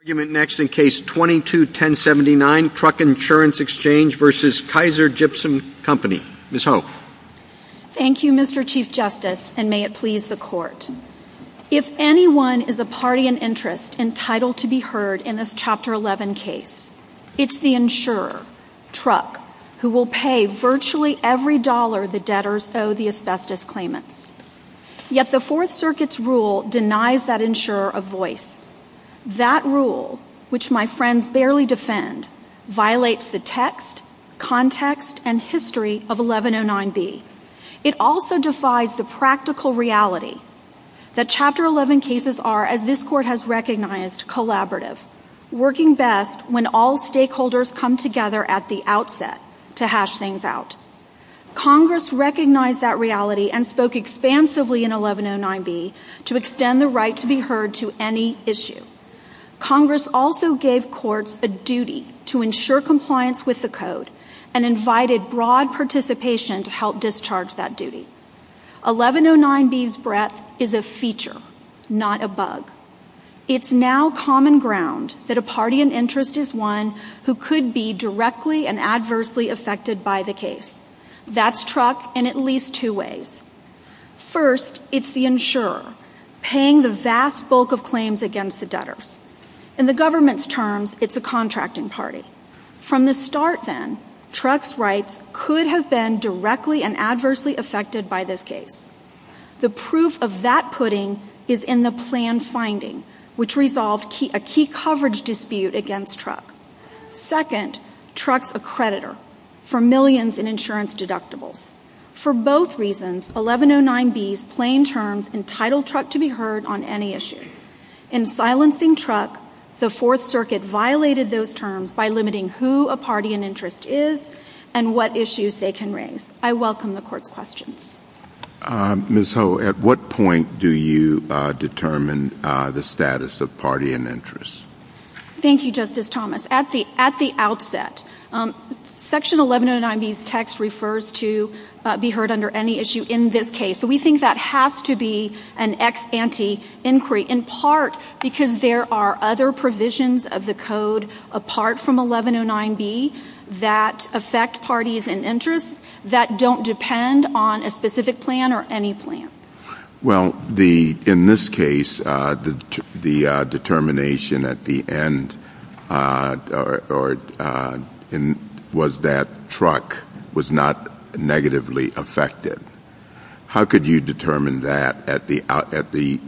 Thank you, Mr. Chief Justice, and may it please the Court. If anyone is a party in interest entitled to be heard in this Chapter 11 case, it's the insurer, truck, who will pay virtually every dollar the debtors owe the asbestos claimant. Yet the Fourth Circuit's rule denies that insurer a voice. That rule is not a voice. That rule, which my friends barely defend, violates the text, context, and history of 1109B. It also defies the practical reality that Chapter 11 cases are, as this Court has recognized, collaborative, working best when all stakeholders come together at the outset to hash things out. Congress recognized that reality and spoke expansively in 1109B to extend the right to be heard to any issue. Congress also gave courts a duty to ensure compliance with the Code and invited broad participation to help discharge that duty. 1109B's breadth is a feature, not a bug. It's now common ground that a party in interest is one who could be directly and adversely affected by the case. That's truck in at least two ways. First, it's the insurer, paying the vast bulk of claims against the debtors. In the government's terms, it's a contracting party. From the start, then, truck's rights could have been directly and adversely affected by this case. The proof of that pudding is in the plan's finding, which resolved a key coverage dispute against truck. Second, truck's a creditor for millions in insurance deductibles. For both reasons, 1109B's plain terms entitled truck to be heard on any issue. In silencing truck, the Fourth Circuit violated those terms by limiting who a party in interest is and what issues they can raise. I welcome the Court's questions. Ms. Ho, at what point do you determine the status of party in interest? Thank you, Justice Thomas. At the outset, Section 1109B's text refers to be heard under any issue in this case. We think that has to be an ex ante inquiry, in part because there are other provisions of the Code apart from 1109B that affect parties in interest that don't depend on a specific plan or any plan. Well, in this case, the determination at the end was that truck was not negatively affected. How could you determine that at the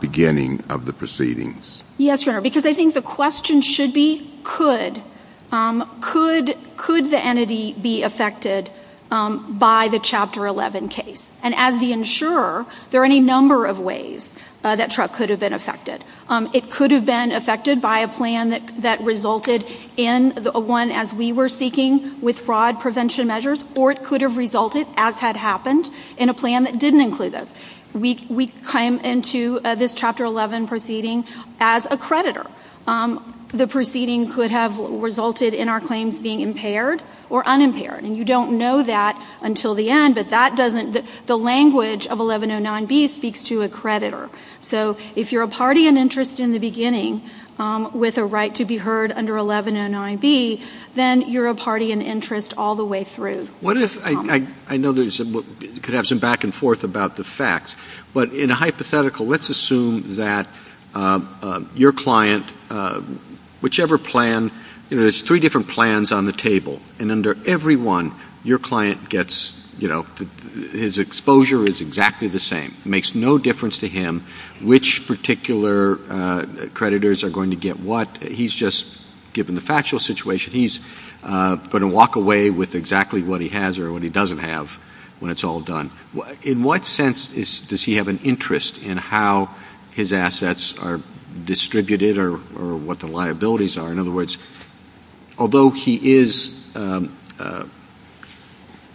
beginning of the proceedings? Yes, Your Honor, because I think the question should be could. Could the entity be affected by the Chapter 11 case? And as the insurer, there are any number of ways that truck could have been affected. It could have been affected by a plan that resulted in one as we were seeking with fraud prevention measures, or it could have resulted, as had happened, in a plan that didn't include those. We came into this Chapter 11 proceeding as a creditor. The proceeding could have resulted in our claims being impaired or unimpaired. And you don't know that until the end, but the language of 1109B speaks to a creditor. So if you're a party in interest in the beginning with a right to be heard under 1109B, then you're a party in interest all the way through. What if, I know there's some back and forth about the facts, but in a hypothetical, let's assume that your client, whichever plan, there's three different plans on the table. And under every one, your client gets, you know, his exposure is exactly the same. It makes no difference to him which particular creditors are going to get what. He's just, given the factual situation, he's going to walk away with exactly what he has or what he doesn't have when it's all done. In what sense does he have an interest in how his assets are distributed or what the liabilities are? In other words, although he is, you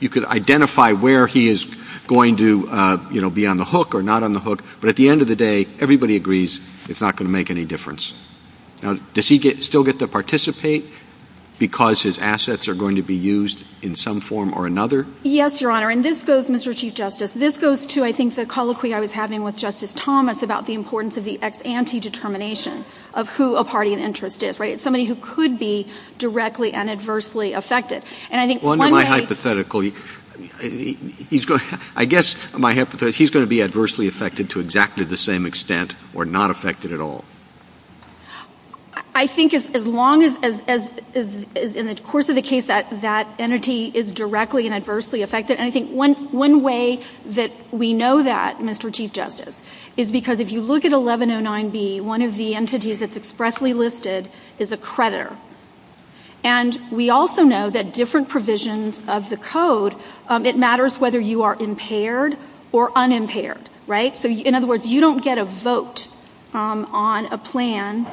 could identify where he is going to, you know, be on the hook or not on the hook, but at the end of the day, everybody agrees it's not going to make any difference. Now, does he still get to participate because his assets are going to be used in some form or another? Yes, Your Honor, and this goes, Mr. Chief Justice, this goes to, I think, the colloquy I was having with Justice Thomas about the importance of the anti-determination of who a party in interest is, right? It's somebody who could be directly and adversely affected. Well, under my hypothetical, he's going to be adversely affected to exactly the same extent or not affected at all. I think as long as, in the course of the case, that entity is directly and adversely affected, and I think one way that we know that, Mr. Chief Justice, is because if you look at 1109B, one of the entities that's expressly listed is a creditor. And we also know that different provisions of the code, it matters whether you are impaired or unimpaired, right? So, in other words, you don't get a vote on a plan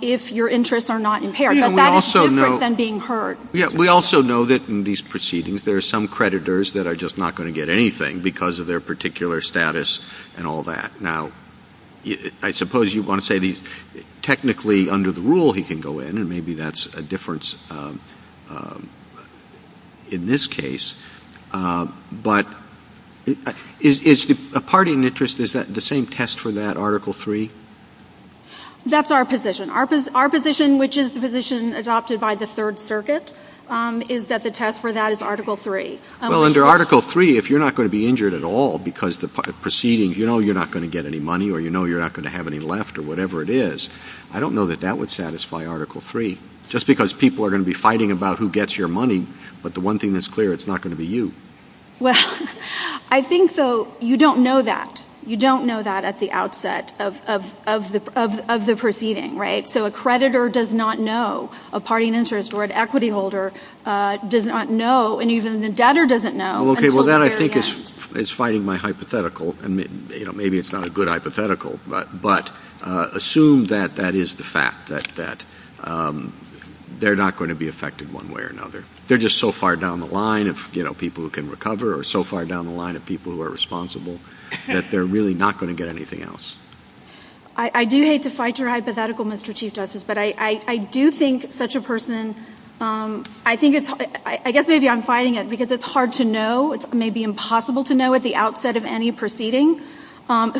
if your interests are not impaired, so that is different than being hurt. We also know that in these proceedings there are some creditors that are just not going to get anything because of their particular status and all that. Now, I suppose you want to say technically under the rule he can go in, and maybe that's a difference in this case, but is a party in interest, is that the same test for that Article III? That's our position. Our position, which is the position adopted by the Third Circuit, is that the test for that is Article III. Well, under Article III, if you're not going to be injured at all because the proceedings, you know you're not going to get any money or you know you're not going to have any left or whatever it is, I don't know that that would satisfy Article III. Just because people are going to be fighting about who gets your money, but the one thing that's clear, it's not going to be you. Well, I think so. You don't know that. You don't know that at the outset of the proceeding, right? So a creditor does not know. A party in interest or an equity holder does not know, and even the debtor doesn't know. Well, that I think is fighting my hypothetical, and maybe it's not a good hypothetical, but assume that that is the fact, that they're not going to be affected one way or another. They're just so far down the line of people who can recover or so far down the line of people who are responsible that they're really not going to get anything else. I do hate to fight your hypothetical, Mr. Chief Justice, but I do think such a person, I guess maybe I'm fighting it because it's hard to know, maybe impossible to know at the outset of any proceeding,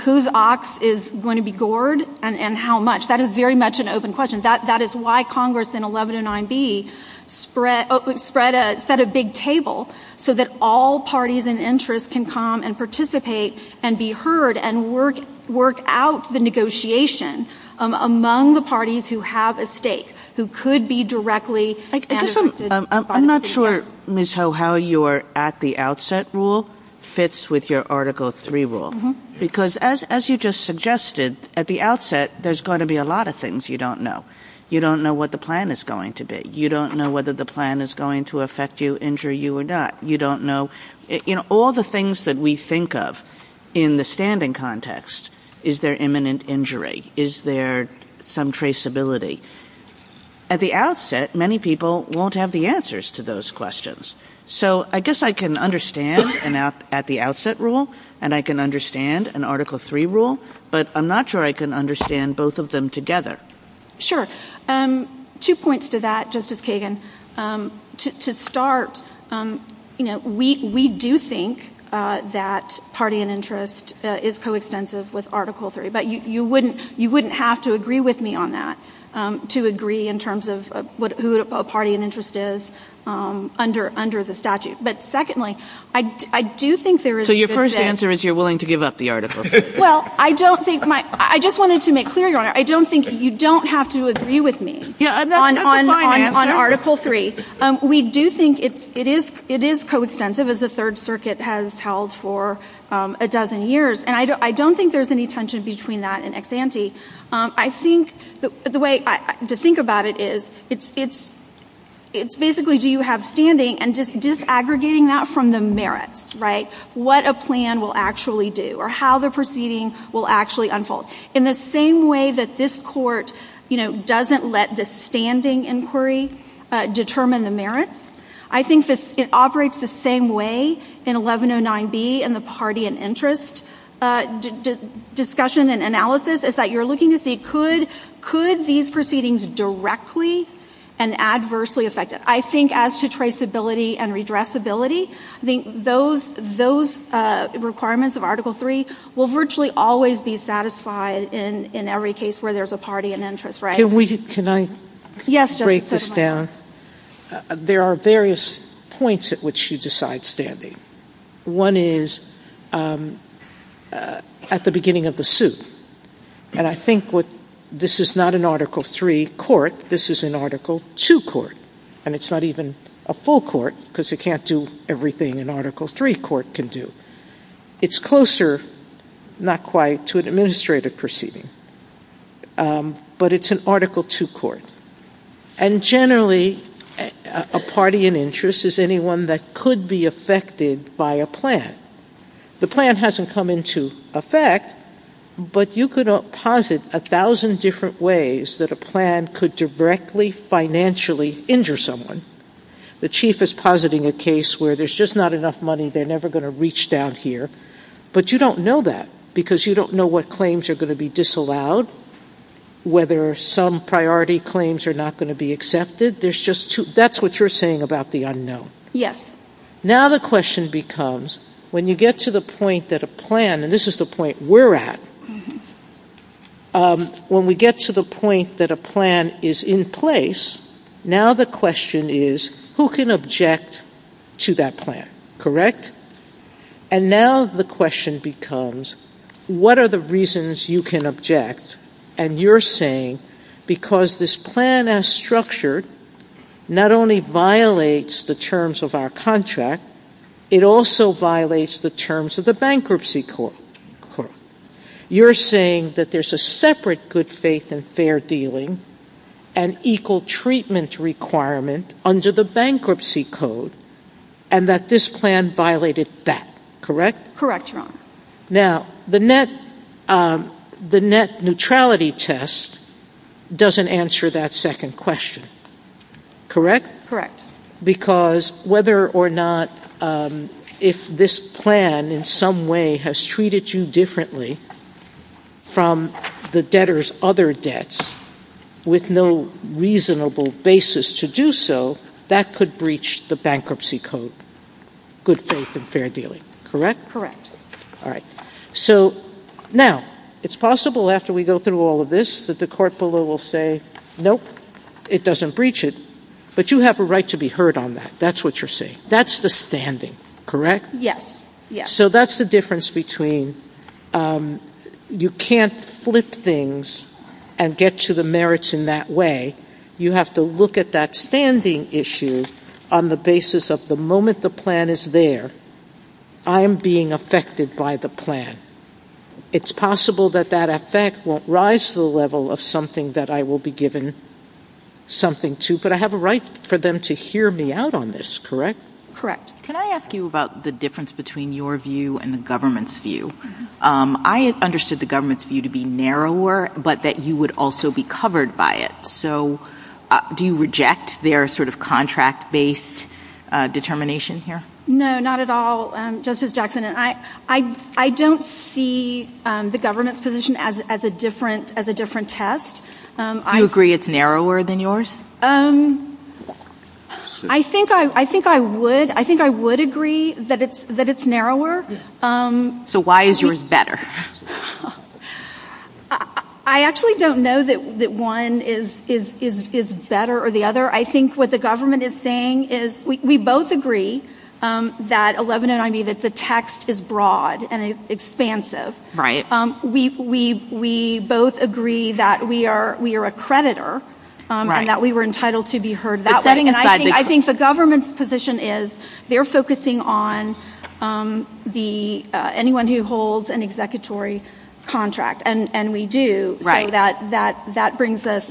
whose ox is going to be gored and how much. That is very much an open question. That is why Congress in 1109B set a big table so that all parties in interest can come and participate and be heard and work out the negotiation among the parties who have a stake, who could be directly... I'm not sure, Ms. Ho, how your at the outset rule fits with your Article III rule, because as you just suggested, at the outset, there's going to be a lot of things you don't know. You don't know what the plan is going to be. You don't know whether the plan is going to affect you, injure you or not. All the things that we think of in the standing context, is there imminent injury? Is there some traceability? At the outset, many people won't have the answers to those questions. I guess I can understand at the outset rule and I can understand an Article III rule, but I'm not sure I can understand both of them together. Sure. Two points to that, Justice Kagan. To start, we do think that party and interest is co-extensive with Article III, but you wouldn't have to agree with me on that, to agree in terms of who a party and interest is under the statute. But secondly, I do think there is... So your first answer is you're willing to give up the Article III? Well, I don't think my... I just wanted to make clear, Your Honor, I don't think you don't have to agree with me on Article III. We do think it is co-extensive, as the Third Circuit has held for a dozen years, and I don't think there's any tension between that and ex-ante. I think the way to think about it is, it's basically do you have standing and just disaggregating that from the merits, right? How the proceeding will actually unfold. In the same way that this Court, you know, doesn't let the standing inquiry determine the merits, I think it operates the same way in 1109B and the party and interest discussion and analysis, is that you're looking to see, could these proceedings directly and adversely affect it? I think as to traceability and redressability, those requirements of Article III will virtually always be satisfied in every case where there's a party and interest, right? Can I break this down? There are various points at which you decide standing. One is at the beginning of the suit. And I think this is not an Article III court, this is an Article II court. And it's not even a full court, because you can't do everything an Article III court can do. It's closer, not quite, to an administrative proceeding. But it's an Article II court. And generally, a party and interest is anyone that could be affected by a plan. The plan hasn't come into effect, but you could posit a thousand different ways that a plan could directly financially injure someone. The chief is positing a case where there's just not enough money, they're never going to reach down here. But you don't know that, because you don't know what claims are going to be disallowed, whether some priority claims are not going to be accepted. That's what you're saying about the unknown. Yes. Now the question becomes, when you get to the point that a plan, and this is the point we're at, when we get to the point that a plan is in place, now the question is, who can object to that plan? Correct? And now the question becomes, what are the reasons you can object, and you're saying, because this plan as structured not only violates the terms of our contract, it also violates the terms of the bankruptcy court. You're saying that there's a separate good faith and fair dealing, an equal treatment requirement under the bankruptcy code, and that this plan violated that. Correct? Correct, Your Honor. Now, the net neutrality test doesn't answer that second question. Correct? Correct. Because whether or not, if this plan in some way has treated you differently from the debtor's other debts, with no reasonable basis to do so, that could breach the bankruptcy code, good faith and fair dealing. Correct? Correct. All right. So now, it's possible after we go through all of this that the court below will say, nope, it doesn't breach it, but you have a right to be heard on that. That's what you're saying. That's the standing. Correct? Yes. So that's the difference between you can't flip things and get to the merits in that way. You have to look at that standing issue on the basis of the moment the plan is there, I'm being affected by the plan. It's possible that that effect won't rise to the level of something that I will be given something to, but I have a right for them to hear me out on this, correct? Correct. Can I ask you about the difference between your view and the government's view? I understood the government's view to be narrower, but that you would also be covered by it. So do you reject their sort of contract-based determination here? No, not at all, Justice Jackson. I don't see the government's position as a different test. Do you agree it's narrower than yours? I think I would agree that it's narrower. So why is yours better? I actually don't know that one is better or the other. I think what the government is saying is we both agree that 1190, that the text is broad and expansive. Right. We both agree that we are a creditor and that we were entitled to be heard that way. I think the government's position is they're focusing on anyone who holds an executory contract, and we do. So that brings us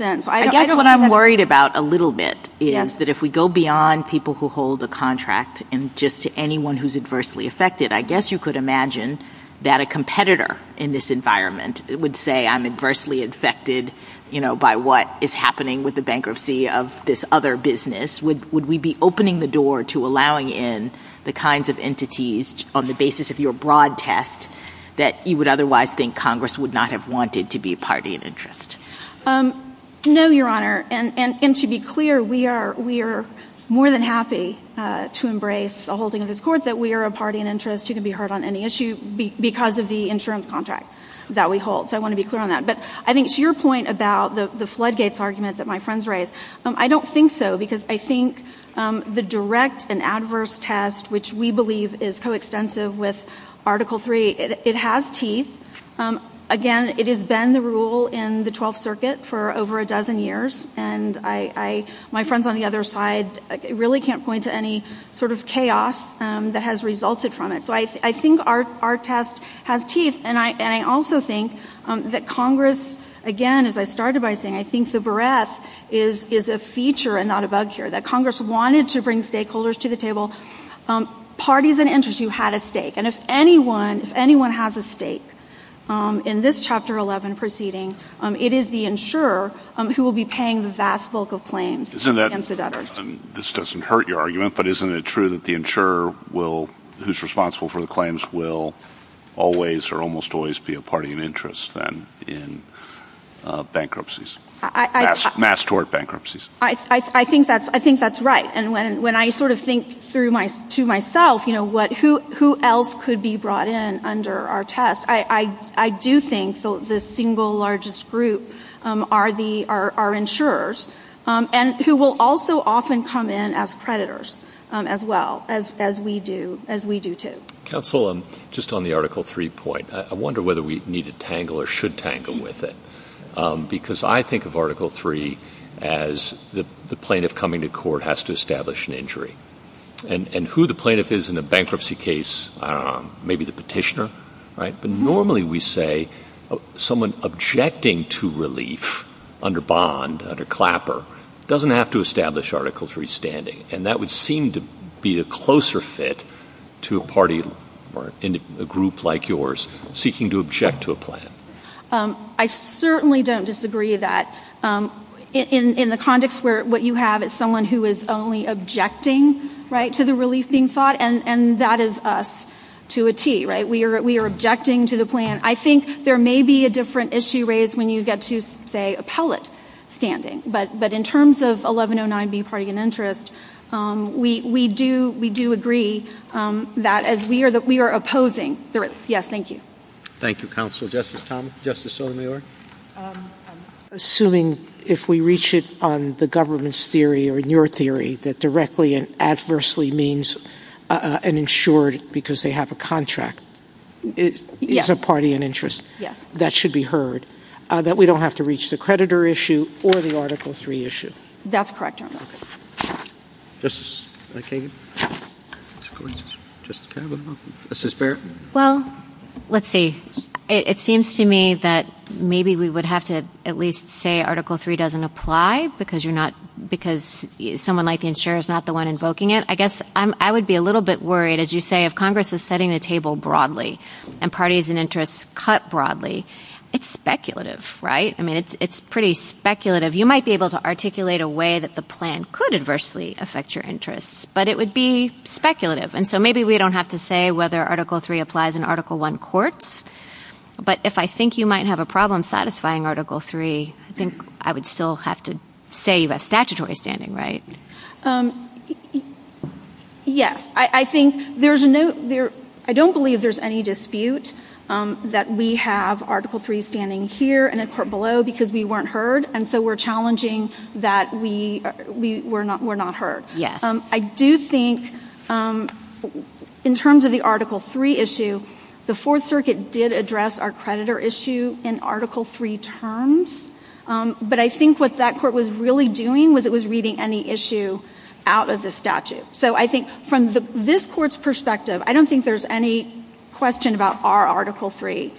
in. I guess what I'm worried about a little bit is that if we go beyond people who hold a contract and just to anyone who's adversely affected, I guess you could imagine that a competitor in this environment would say I'm adversely affected by what is happening with the bankruptcy of this other business. Would we be opening the door to allowing in the kinds of entities on the basis of your broad test that you would otherwise think Congress would not have wanted to be a party of interest? No, Your Honor, and to be clear, we are more than happy to embrace a holding of this court, that we are a party of interest who can be heard on any issue because of the insurance contract that we hold. So I want to be clear on that. But I think to your point about the floodgates argument that my friends raised, I don't think so because I think the direct and adverse test, which we believe is coextensive with Article III, it has teeth. Again, it has been the rule in the Twelfth Circuit for over a dozen years. My friends on the other side really can't point to any sort of chaos that has resulted from it. So I think our test has teeth, and I also think that Congress, again, as I started by saying, I think the barrette is a feature and not a bug here, that Congress wanted to bring stakeholders to the table, parties of interest who had a stake, and if anyone has a stake in this Chapter 11 proceeding, it is the insurer who will be paying the vast bulk of claims against the debtors. This doesn't hurt your argument, but isn't it true that the insurer who is responsible for the claims will always or almost always be a party of interest then in bankruptcies, mass tort bankruptcies? I think that's right. And when I sort of think to myself who else could be brought in under our test, I do think the single largest group are insurers, and who will also often come in as predators as well, as we do too. Counsel, just on the Article III point, I wonder whether we need to tangle or should tangle with it, because I think of Article III as the plaintiff coming to court has to establish an injury, and who the plaintiff is in a bankruptcy case, I don't know, maybe the petitioner, right? But normally we say someone objecting to relief under bond, under clapper, doesn't have to establish Article III standing, and that would seem to be a closer fit to a party or a group like yours seeking to object to a plan. I certainly don't disagree that in the context where what you have is someone who is only objecting, right, to the relief being sought, and that is us to a T, right? We are objecting to the plan. I think there may be a different issue raised when you get to, say, appellate standing, but in terms of 1109B, party of interest, we do agree that we are opposing the relief. Yes, thank you. Thank you, Counsel. Justice Thomas? Justice Sotomayor? Assuming if we reach it on the government's theory or your theory, that directly and adversely means an insured because they have a contract as a party in interest, that should be heard, that we don't have to reach the creditor issue or the Article III issue? That's correct, Your Honor. Justice McKagan? Yes. Justice Kavanaugh? Justice Barrett? Well, let's see. It seems to me that maybe we would have to at least say Article III doesn't apply because someone like the insurer is not the one invoking it. I guess I would be a little bit worried, as you say, if Congress is setting the table broadly and parties in interest cut broadly. It's speculative, right? I mean, it's pretty speculative. You might be able to articulate a way that the plan could adversely affect your interests, but it would be speculative. And so maybe we don't have to say whether Article III applies in Article I courts, but if I think you might have a problem satisfying Article III, I think I would still have to say you have statutory standing, right? Yes. I don't believe there's any dispute that we have Article III standing here in a court below because we weren't heard, and so we're challenging that we're not heard. Yes. I do think in terms of the Article III issue, the Fourth Circuit did address our creditor issue in Article III terms, but I think what that court was really doing was it was reading any issue out of the statute. So I think from this court's perspective, I don't think there's any question about our Article III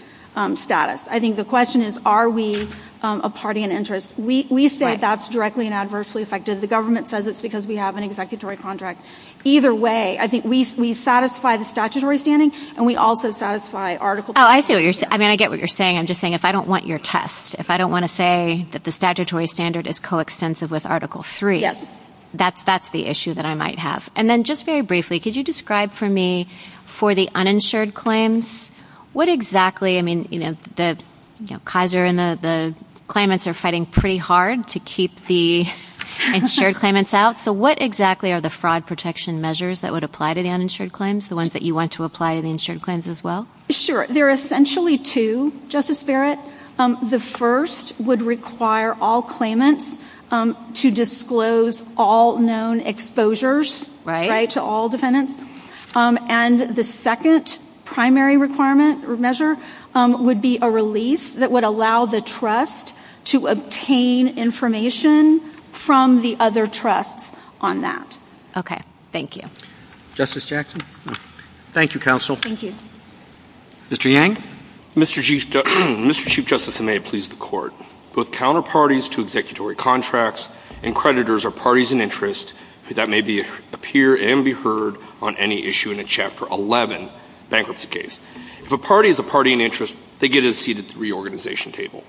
status. I think the question is are we a party in interest. We say that's directly and adversely affected. The government says it's because we have an executory contract. Either way, I think we satisfy the statutory standing, and we also satisfy Article III. Oh, I see what you're saying. I mean, I get what you're saying. I'm just saying if I don't want your test, if I don't want to say that the statutory standard is coextensive with Article III, that's the issue that I might have. And then just very briefly, could you describe for me for the uninsured claims what exactly, I mean, Kaiser and the claimants are fighting pretty hard to keep the insured claimants out. So what exactly are the fraud protection measures that would apply to the uninsured claims, the ones that you want to apply to the insured claims as well? Sure. There are essentially two, Justice Barrett. The first would require all claimants to disclose all known exposures to all defendants. And the second primary requirement or measure would be a release that would allow the trust to obtain information from the other trusts on that. Okay. Thank you. Justice Jackson? Thank you, Counsel. Thank you. Mr. Yang? Mr. Chief Justice, and may it please the Court, both counterparties to executory contracts and creditors are parties in interest, that may appear and be heard on any issue in a Chapter 11 bankruptcy case. If a party is a party in interest, they get a seat at the reorganization table.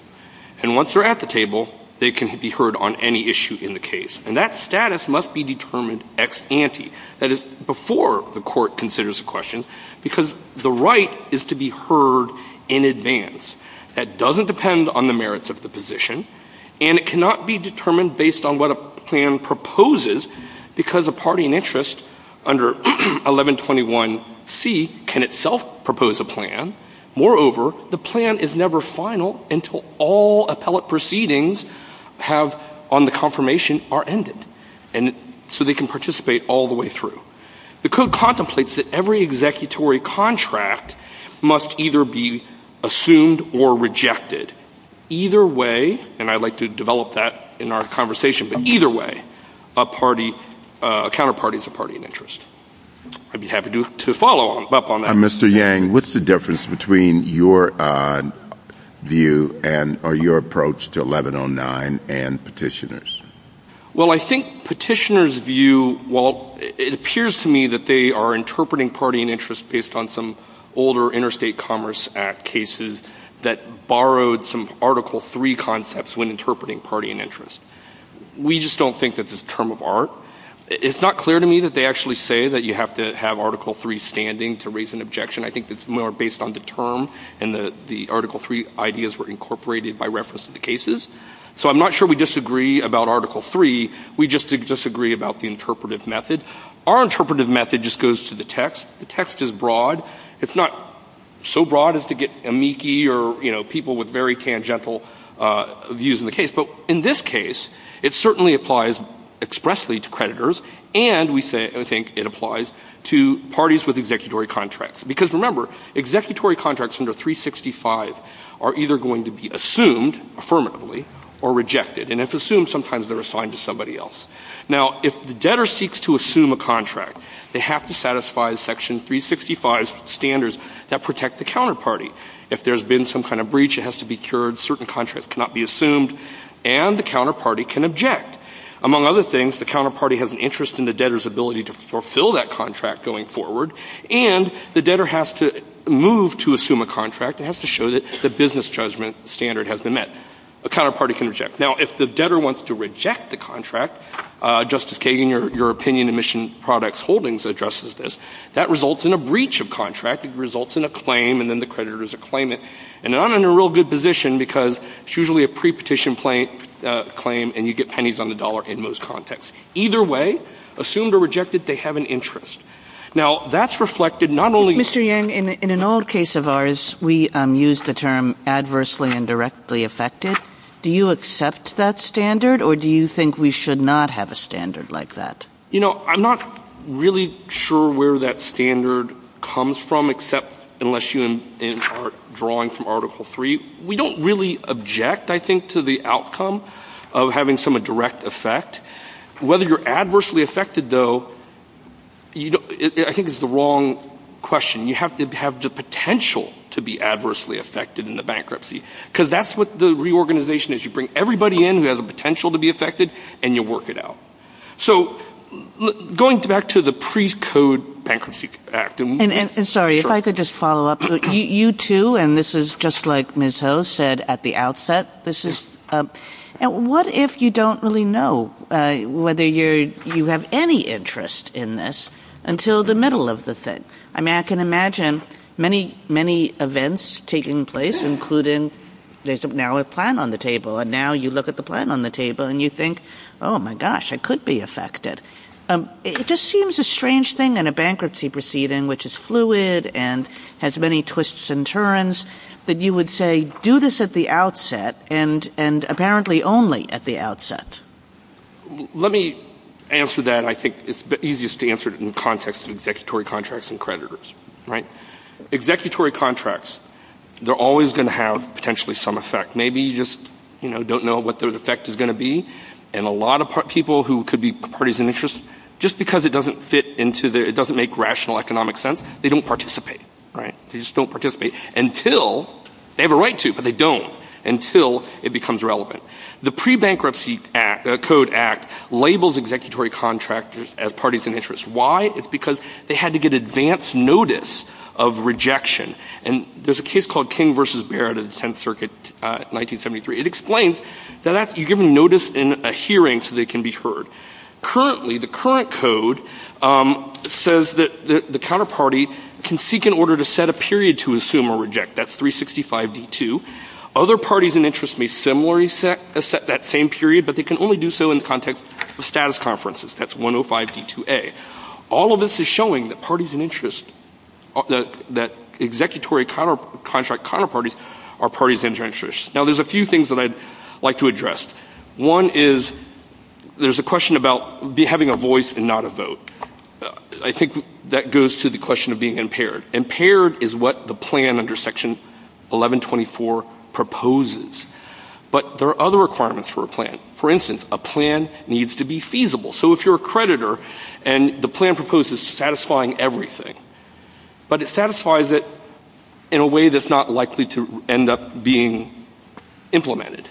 And once they're at the table, they can be heard on any issue in the case. And that status must be determined ex ante, that is, before the Court considers a question, because the right is to be heard in advance. That doesn't depend on the merits of the position, and it cannot be determined based on what a plan proposes, because a party in interest under 1121C can itself propose a plan. Moreover, the plan is never final until all appellate proceedings on the confirmation are ended, so they can participate all the way through. The Code contemplates that every executory contract must either be assumed or rejected. Either way, and I'd like to develop that in our conversation, but either way, a counterparty is a party in interest. I'd be happy to follow up on that. Mr. Yang, what's the difference between your view or your approach to 1109 and petitioners? Well, I think petitioners' view, well, it appears to me that they are interpreting party in interest based on some older Interstate Commerce Act cases that borrowed some Article III concepts when interpreting party in interest. We just don't think that's a term of art. It's not clear to me that they actually say that you have to have Article III standing to raise an objection. I think it's more based on the term and the Article III ideas were incorporated by reference to the cases. So I'm not sure we disagree about Article III. We just disagree about the interpretive method. Our interpretive method just goes to the text. The text is broad. It's not so broad as to get amici or people with very tangential views in the case. But in this case, it certainly applies expressly to creditors, and we think it applies to parties with executory contracts. Because remember, executory contracts under 365 are either going to be assumed affirmatively or rejected. And if assumed, sometimes they're assigned to somebody else. Now, if the debtor seeks to assume a contract, they have to satisfy Section 365 standards that protect the counterparty. If there's been some kind of breach, it has to be cured. Certain contracts cannot be assumed, and the counterparty can object. Among other things, the counterparty has an interest in the debtor's ability to fulfill that contract going forward, and the debtor has to move to assume a contract. It has to show that the business judgment standard has been met. The counterparty can reject. Now, if the debtor wants to reject the contract, Justice Kagan, your opinion in Mission Products Holdings addresses this, that results in a breach of contract. It results in a claim, and then the creditors claim it. And they're not in a real good position because it's usually a pre-petition claim, and you get pennies on the dollar in most contexts. Either way, assumed or rejected, they have an interest. Now, that's reflected not only in… Mr. Yang, in an old case of ours, we used the term adversely and directly affected. Do you accept that standard, or do you think we should not have a standard like that? You know, I'm not really sure where that standard comes from except unless you are drawing from Article III. We don't really object, I think, to the outcome of having some direct effect. Whether you're adversely affected, though, I think is the wrong question. You have to have the potential to be adversely affected in the bankruptcy because that's what the reorganization is. You bring everybody in who has a potential to be affected, and you work it out. So going back to the precode bankruptcy act… And, sorry, if I could just follow up. You two, and this is just like Ms. Ho said at the outset, this is… What if you don't really know whether you have any interest in this until the middle of the thing? I can imagine many, many events taking place, including there's now a plan on the table, and now you look at the plan on the table, and you think, oh my gosh, it could be affected. It just seems a strange thing in a bankruptcy proceeding, which is fluid and has many twists and turns, that you would say, do this at the outset, and apparently only at the outset. Let me answer that, and I think it's easiest to answer it in the context of executory contracts and creditors. Executory contracts, they're always going to have potentially some effect. Maybe you just don't know what the effect is going to be, and a lot of people who could be parties of interest, just because it doesn't fit into the… It doesn't make rational economic sense, they don't participate. They just don't participate until… They have a right to, but they don't until it becomes relevant. The Pre-Bankruptcy Code Act labels executory contracts as parties of interest. Why? It's because they had to get advance notice of rejection. There's a case called King v. Barrett of the Tenth Circuit, 1973. It explains that you give them notice in a hearing so they can be heard. Currently, the current code says that the counterparty can seek in order to set a period to assume or reject. That's 365.D.2. Other parties in interest may similarly set that same period, but they can only do so in the context of status conferences. That's 105.D.2.A. All of this is showing that parties in interest… that executory contract counterparties are parties of interest. Now, there's a few things that I'd like to address. One is, there's a question about having a voice and not a vote. I think that goes to the question of being impaired. Impaired is what the plan under Section 1124 proposes. But there are other requirements for a plan. For instance, a plan needs to be feasible. So, if you're a creditor and the plan proposes satisfying everything, but it satisfies it in a way that's not likely to end up being implemented,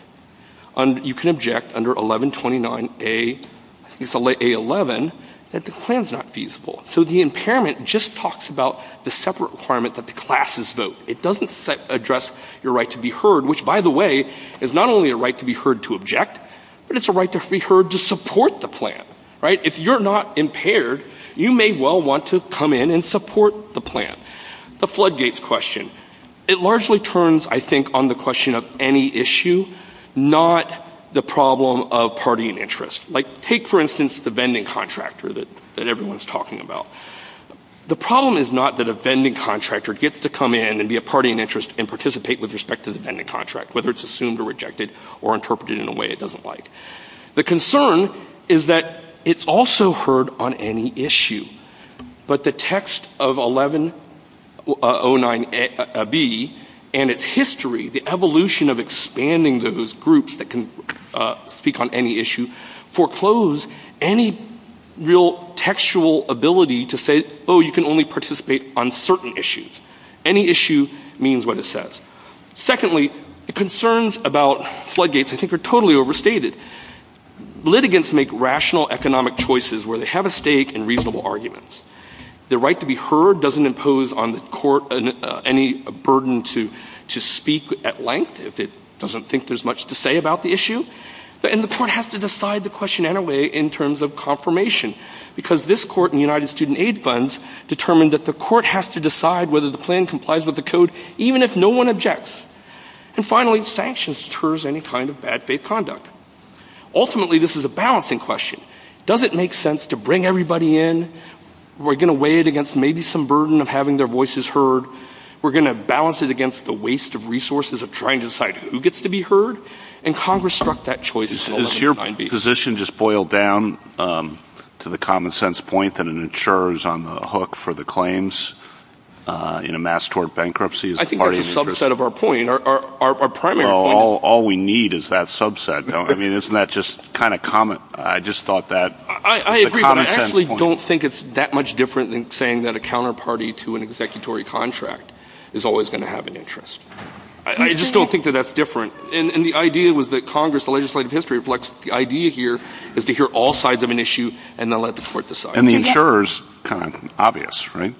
you can object under 1129A11 that the plan's not feasible. So, the impairment just talks about the separate requirement that the classes vote. It doesn't address your right to be heard, which, by the way, is not only a right to be heard to object, but it's a right to be heard to support the plan. If you're not impaired, you may well want to come in and support the plan. The floodgates question. It largely turns, I think, on the question of any issue, not the problem of party in interest. Take, for instance, the vending contractor that everyone's talking about. The problem is not that a vending contractor gets to come in and be a party in interest and participate with respect to the vending contract, whether it's assumed or rejected or interpreted in a way it doesn't like. The concern is that it's also heard on any issue. But the text of 1109B and its history, the evolution of expanding those groups that can speak on any issue, foreclose any real textual ability to say, oh, you can only participate on certain issues. Any issue means what it says. Secondly, the concerns about floodgates I think are totally overstated. Litigants make rational economic choices where they have a stake in reasonable arguments. The right to be heard doesn't impose on the court any burden to speak at length if it doesn't think there's much to say about the issue. And the court has to decide the question in a way in terms of confirmation because this court and United Student Aid funds determined that the court has to decide whether the plan complies with the code even if no one objects. And finally, sanctions deter any kind of bad faith conduct. Ultimately, this is a balancing question. Does it make sense to bring everybody in? We're going to weigh it against maybe some burden of having their voices heard. We're going to balance it against the waste of resources of trying to decide who gets to be heard. And Congress struck that choice in 1190. Is your position just boiled down to the common sense point that an insurer is on the hook for the claims in a mass tort bankruptcy? I think that's a subset of our point, our primary point. All we need is that subset. Isn't that just kind of common? I just thought that was a common sense point. I agree, but I actually don't think it's that much different than saying that a counterparty to an executory contract is always going to have an interest. I just don't think that that's different. And the idea was that Congress, the legislative history reflects the idea here is to hear all sides of an issue and then let the court decide. And the insurer is kind of obvious, right?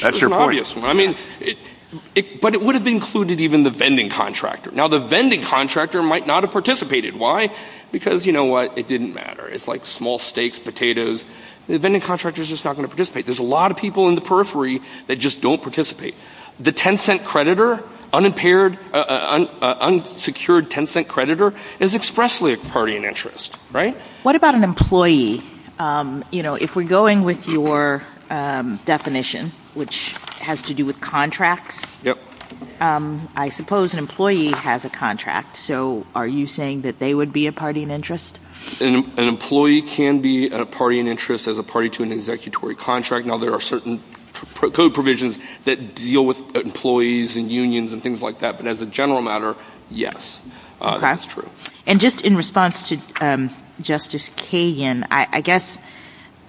That's your point. Sure, it's an obvious one. But it would have included even the vending contractor. Now, the vending contractor might not have participated. Why? Because, you know what, it didn't matter. It's like small steaks, potatoes. The vending contractor is just not going to participate. There's a lot of people in the periphery that just don't participate. The 10-cent creditor, unsecured 10-cent creditor, is expressly a party in interest, right? What about an employee? If we're going with your definition, which has to do with contracts, I suppose an employee has a contract. So are you saying that they would be a party in interest? An employee can be a party in interest as a party to an executory contract. Now, there are certain code provisions that deal with employees and unions and things like that. But as a general matter, yes, that's true. And just in response to Justice Kagan, I guess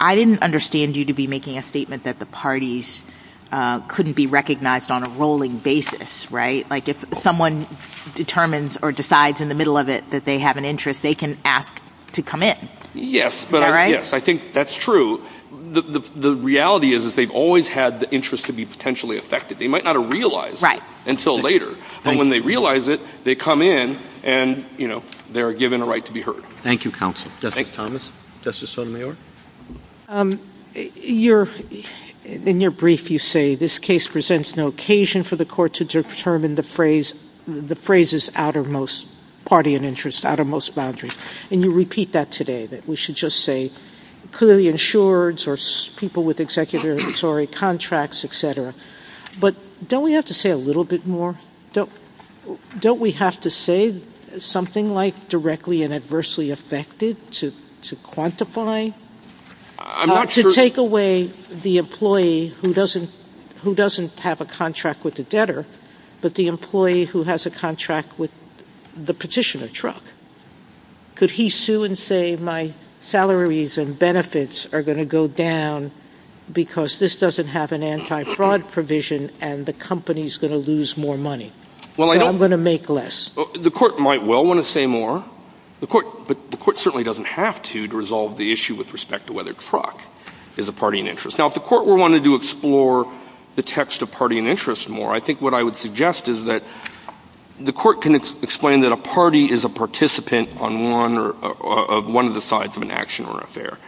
I didn't understand you to be making a statement that the parties couldn't be recognized on a rolling basis, right? Like if someone determines or decides in the middle of it that they have an interest, they can ask to come in. Yes, but I think that's true. The reality is that they've always had the interest to be potentially affected. They might not have realized that until later. But when they realize it, they come in, and, you know, they're given a right to be heard. Thank you, counsel. Justice Thomas? Justice Sotomayor? In your brief, you say, this case presents no occasion for the court to determine the phrase's outermost party in interest, outermost boundaries. And you repeat that today, that we should just say clearly insureds or people with executory contracts, et cetera. But don't we have to say a little bit more? Don't we have to say something like directly and adversely affected to quantify? To take away the employee who doesn't have a contract with the debtor, but the employee who has a contract with the petitioner truck? Could he sue and say, my salaries and benefits are going to go down because this doesn't have an anti-fraud provision, and the company's going to lose more money, and I'm going to make less? The court might well want to say more. But the court certainly doesn't have to, to resolve the issue with respect to whether truck is a party in interest. Now, if the court were wanting to explore the text of party in interest more, I think what I would suggest is that the court can explain that a party is a participant on one of the sides of an action or affair.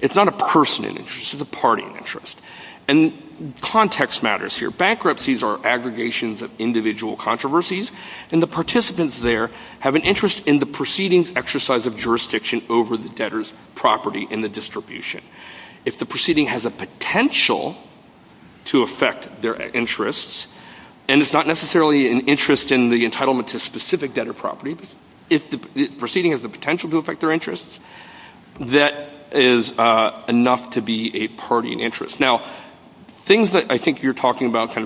It's not a person in interest. It's a party in interest. And context matters here. Bankruptcies are aggregations of individual controversies, and the participants there have an interest in the proceeding's exercise of jurisdiction over the debtor's property in the distribution. If the proceeding has a potential to affect their interests, and it's not necessarily an interest in the entitlement to a specific debtor property, if the proceeding has the potential to affect their interests, that is enough to be a party in interest. Now, things that I think you're talking about,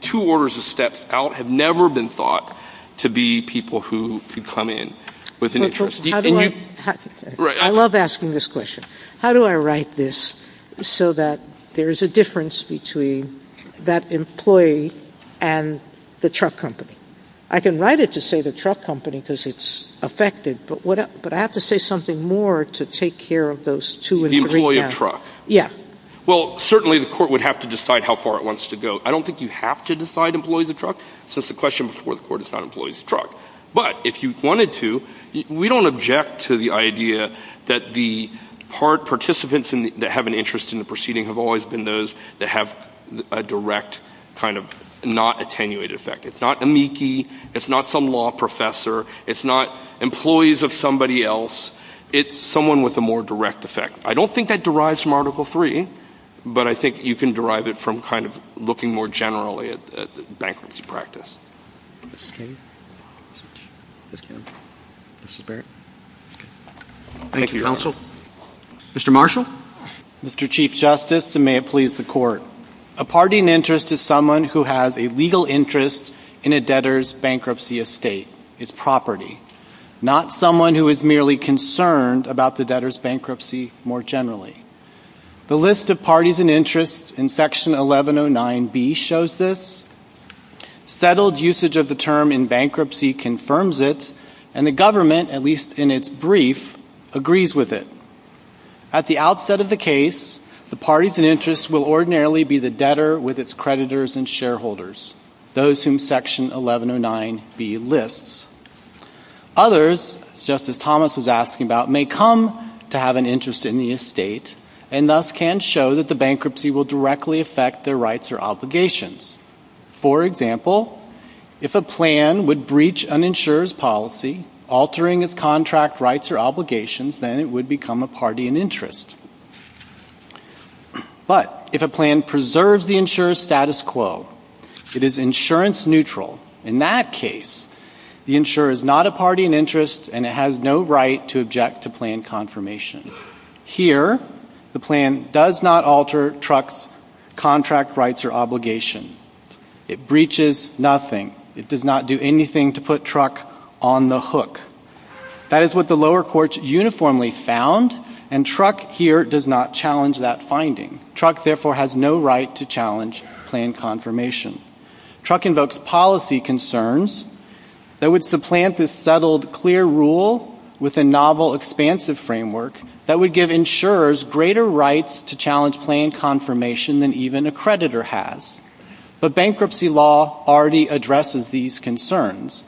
two orders of steps out have never been thought to be people who come in with an interest. I love asking this question. How do I write this so that there is a difference between that employee and the truck company? I can write it to say the truck company because it's affected, but I have to say something more to take care of those two and three counts. The employee and truck. Yeah. Well, certainly the court would have to decide how far it wants to go. I don't think you have to decide employees and truck, so it's a question before the court to decide employees and truck. But if you wanted to, we don't object to the idea that the participants that have an interest in the proceeding have always been those that have a direct kind of not attenuated effect. It's not amici. It's not some law professor. It's not employees of somebody else. It's someone with a more direct effect. I don't think that derives from Article III, but I think you can derive it from kind of looking more generally at the bankruptcy practice. Thank you, counsel. Mr. Marshall? Mr. Chief Justice, and may it please the court, a party in interest is someone who has a legal interest in a debtor's bankruptcy estate. It's property. Not someone who is merely concerned about the debtor's bankruptcy more generally. The list of parties in interest in Section 1109B shows this. Settled usage of the term in bankruptcy confirms it, and the government, at least in its brief, agrees with it. At the outset of the case, the parties in interest will ordinarily be the debtor with its creditors and shareholders, those whom Section 1109B lists. Others, Justice Thomas was asking about, may come to have an interest in the estate and thus can show that the bankruptcy will directly affect their rights or obligations. For example, if a plan would breach an insurer's policy, altering its contract rights or obligations, then it would become a party in interest. But if a plan preserves the insurer's status quo, it is insurance neutral. In that case, the insurer is not a party in interest, and it has no right to object to plan confirmation. Here, the plan does not alter the truck's contract rights or obligations. It breaches nothing. It does not do anything to put truck on the hook. That is what the lower courts uniformly found, and truck here does not challenge that finding. Truck therefore has no right to challenge plan confirmation. Truck invokes policy concerns that would supplant this settled, clear rule with a novel, expansive framework that would give insurers greater rights to challenge plan confirmation than even a creditor has. But bankruptcy law already addresses these concerns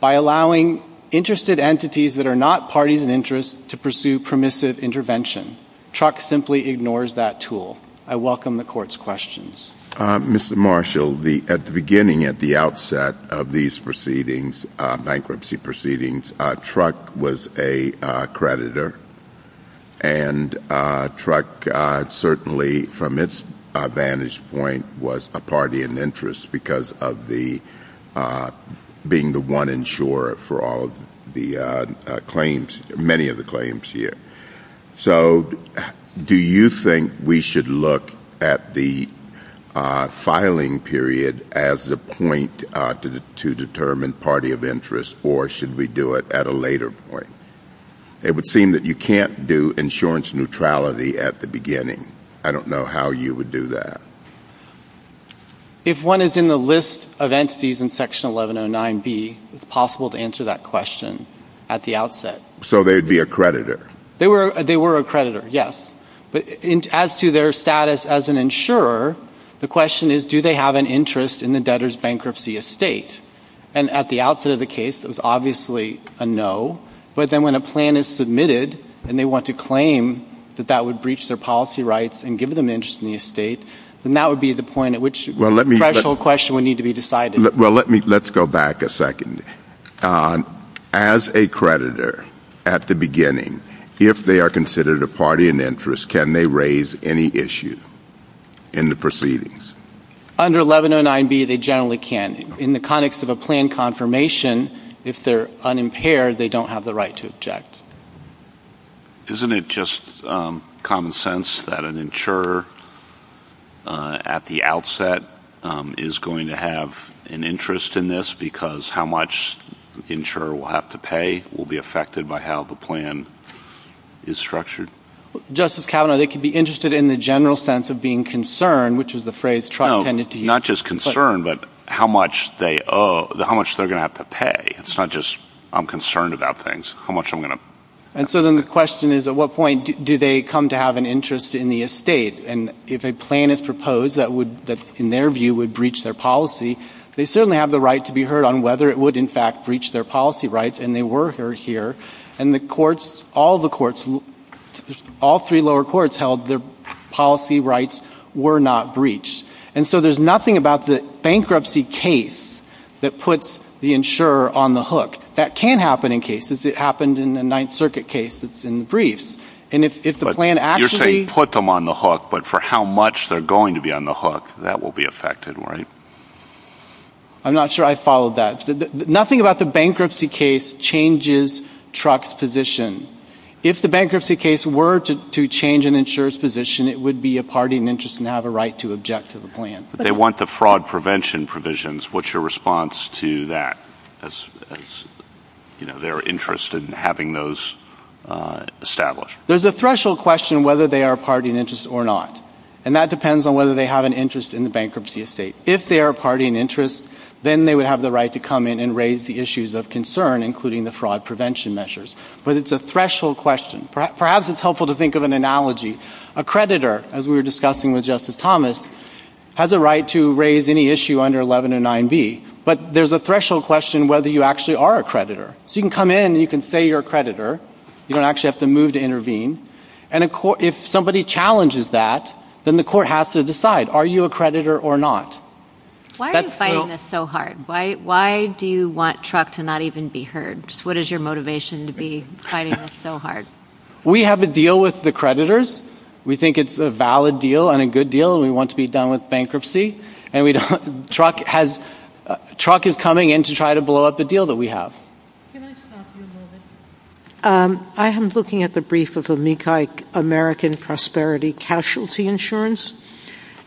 by allowing interested entities that are not parties in interest to pursue permissive intervention. Truck simply ignores that tool. I welcome the Court's questions. Mr. Marshall, at the beginning, at the outset of these proceedings, bankruptcy proceedings, truck was a creditor, and truck certainly, from its vantage point, was a party in interest because of being the one insurer for many of the claims here. Do you think we should look at the filing period as a point to determine party of interest, or should we do it at a later point? It would seem that you can't do insurance neutrality at the beginning. I don't know how you would do that. If one is in the list of entities in Section 1109B, it's possible to answer that question at the outset. So they'd be a creditor? They were a creditor, yes. But as to their status as an insurer, the question is, do they have an interest in the debtor's bankruptcy estate? And at the outset of the case, it was obviously a no, but then when a plan is submitted and they want to claim that that would breach their policy rights and give them an interest in the estate, then that would be the point at which the actual question would need to be decided. Let's go back a second. As a creditor at the beginning, if they are considered a party in interest, can they raise any issue in the proceedings? Under 1109B, they generally can. In the context of a plan confirmation, if they're unimpaired, they don't have the right to object. Isn't it just common sense that an insurer at the outset is going to have an interest in this because how much the insurer will have to pay will be affected by how the plan is structured? Justice Kavanaugh, they could be interested in the general sense of being concerned, which is the phrase Trump tended to use. No, not just concerned, but how much they're going to have to pay. It's not just, I'm concerned about things. The question is, at what point do they come to have an interest in the estate? If a plan is proposed that, in their view, would breach their policy, they certainly have the right to be heard on whether it would, in fact, breach their policy rights, and they were heard here. All three lower courts held their policy rights were not breached. And so there's nothing about the bankruptcy case that puts the insurer on the hook. That can happen in cases. It happened in the Ninth Circuit case in the briefs. You're saying put them on the hook, but for how much they're going to be on the hook, that will be affected, right? I'm not sure I followed that. Nothing about the bankruptcy case changes Trump's position. If the bankruptcy case were to change an insurer's position, it would be a party in interest and have a right to object to the plan. They want the fraud prevention provisions. What's your response to that, as their interest in having those established? There's a threshold question whether they are a party in interest or not, and that depends on whether they have an interest in the bankruptcy estate. If they are a party in interest, then they would have the right to come in and raise the issues of concern, including the fraud prevention measures, but it's a threshold question. Perhaps it's helpful to think of an analogy. A creditor, as we were discussing with Justice Thomas, has a right to raise any issue under 1109B, but there's a threshold question whether you actually are a creditor. So you can come in and you can say you're a creditor. You don't actually have to move to intervene. And if somebody challenges that, then the court has to decide, are you a creditor or not? Why are you fighting this so hard? Why do you want Truck to not even be heard? What is your motivation to be fighting this so hard? We have a deal with the creditors. We think it's a valid deal and a good deal. We want to be done with bankruptcy, and Truck is coming in to try to blow up the deal that we have. I am looking at the brief of Amici American Prosperity Casualty Insurance,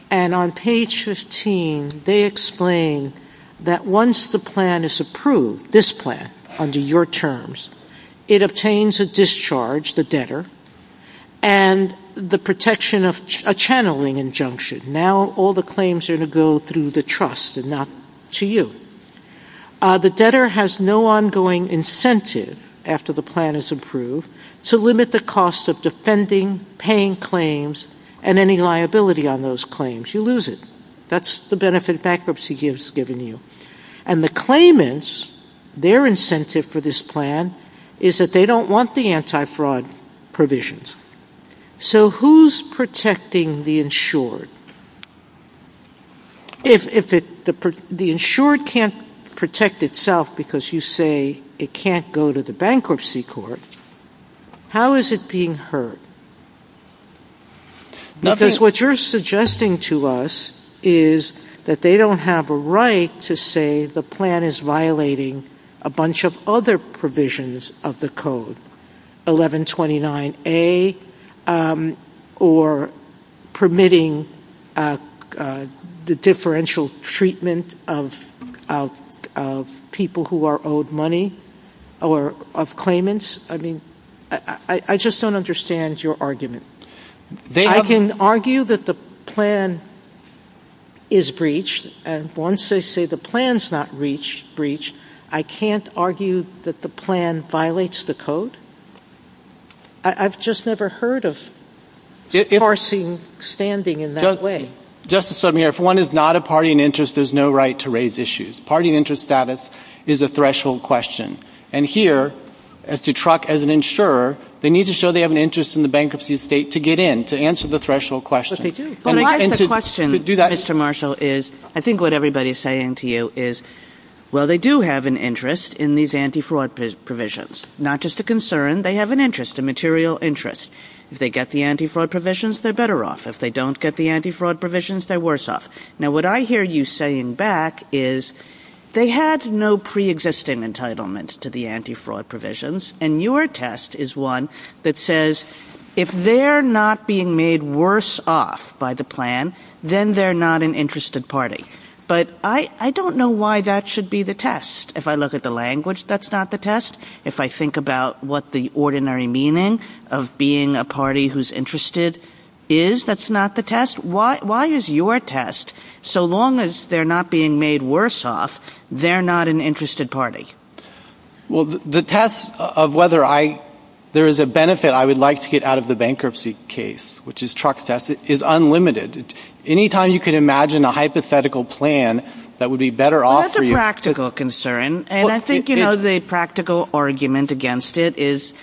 and on page 15, they explain that once the plan is approved, this plan, under your terms, it obtains a discharge, the debtor, and the protection of a channeling injunction. Now all the claims are going to go through the trust and not to you. The debtor has no ongoing incentive, after the plan is approved, to limit the cost of defending, paying claims, and any liability on those claims. You lose it. That's the benefit bankruptcy gives, given you. And the claimants, their incentive for this plan is that they don't want the anti-fraud provisions. So who's protecting the insured? If the insured can't protect itself because you say it can't go to the bankruptcy court, how is it being heard? Because what you're suggesting to us is that they don't have a right to say the plan is violating a bunch of other provisions of the code, 1129A, or permitting the differential treatment of people who are owed money, or of claimants. I just don't understand your argument. I can argue that the plan is breached, and once they say the plan's not breached, I can't argue that the plan violates the code? I've just never heard of enforcing standing in that way. Justice Sotomayor, if one is not a party in interest, there's no right to raise issues. Party in interest status is a threshold question. And here, as a truck, as an insurer, they need to show they have an interest in the bankruptcy state to get in, to answer the threshold question. I think what everybody's saying to you is, well, they do have an interest in these anti-fraud provisions. Not just a concern, they have an interest, a material interest. If they get the anti-fraud provisions, they're better off. If they don't get the anti-fraud provisions, they're worse off. Now, what I hear you saying back is, they had no pre-existing entitlement to the anti-fraud provisions, and your test is one that says, if they're not being made worse off by the plan, then they're not an interested party. But I don't know why that should be the test. If I look at the language, that's not the test. If I think about what the ordinary meaning of being a party who's interested is, that's not the test. Why is your test, so long as they're not being made worse off, they're not an interested party? Well, the test of whether there is a benefit I would like to get out of the bankruptcy case, which is Truck's test, is unlimited. Any time you could imagine a hypothetical plan that would be better off for you. That's a practical concern, and I think the practical argument against it is,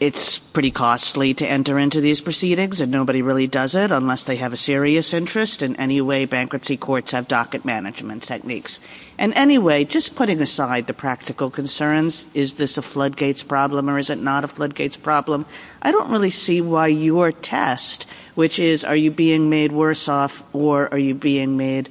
it's pretty costly to enter into these proceedings, and nobody really does it unless they have a serious interest. In any way, bankruptcy courts have docket management techniques. In any way, just putting aside the practical concerns, is this a floodgates problem or is it not a floodgates problem, I don't really see why your test, which is, are you being made worse off, or are you just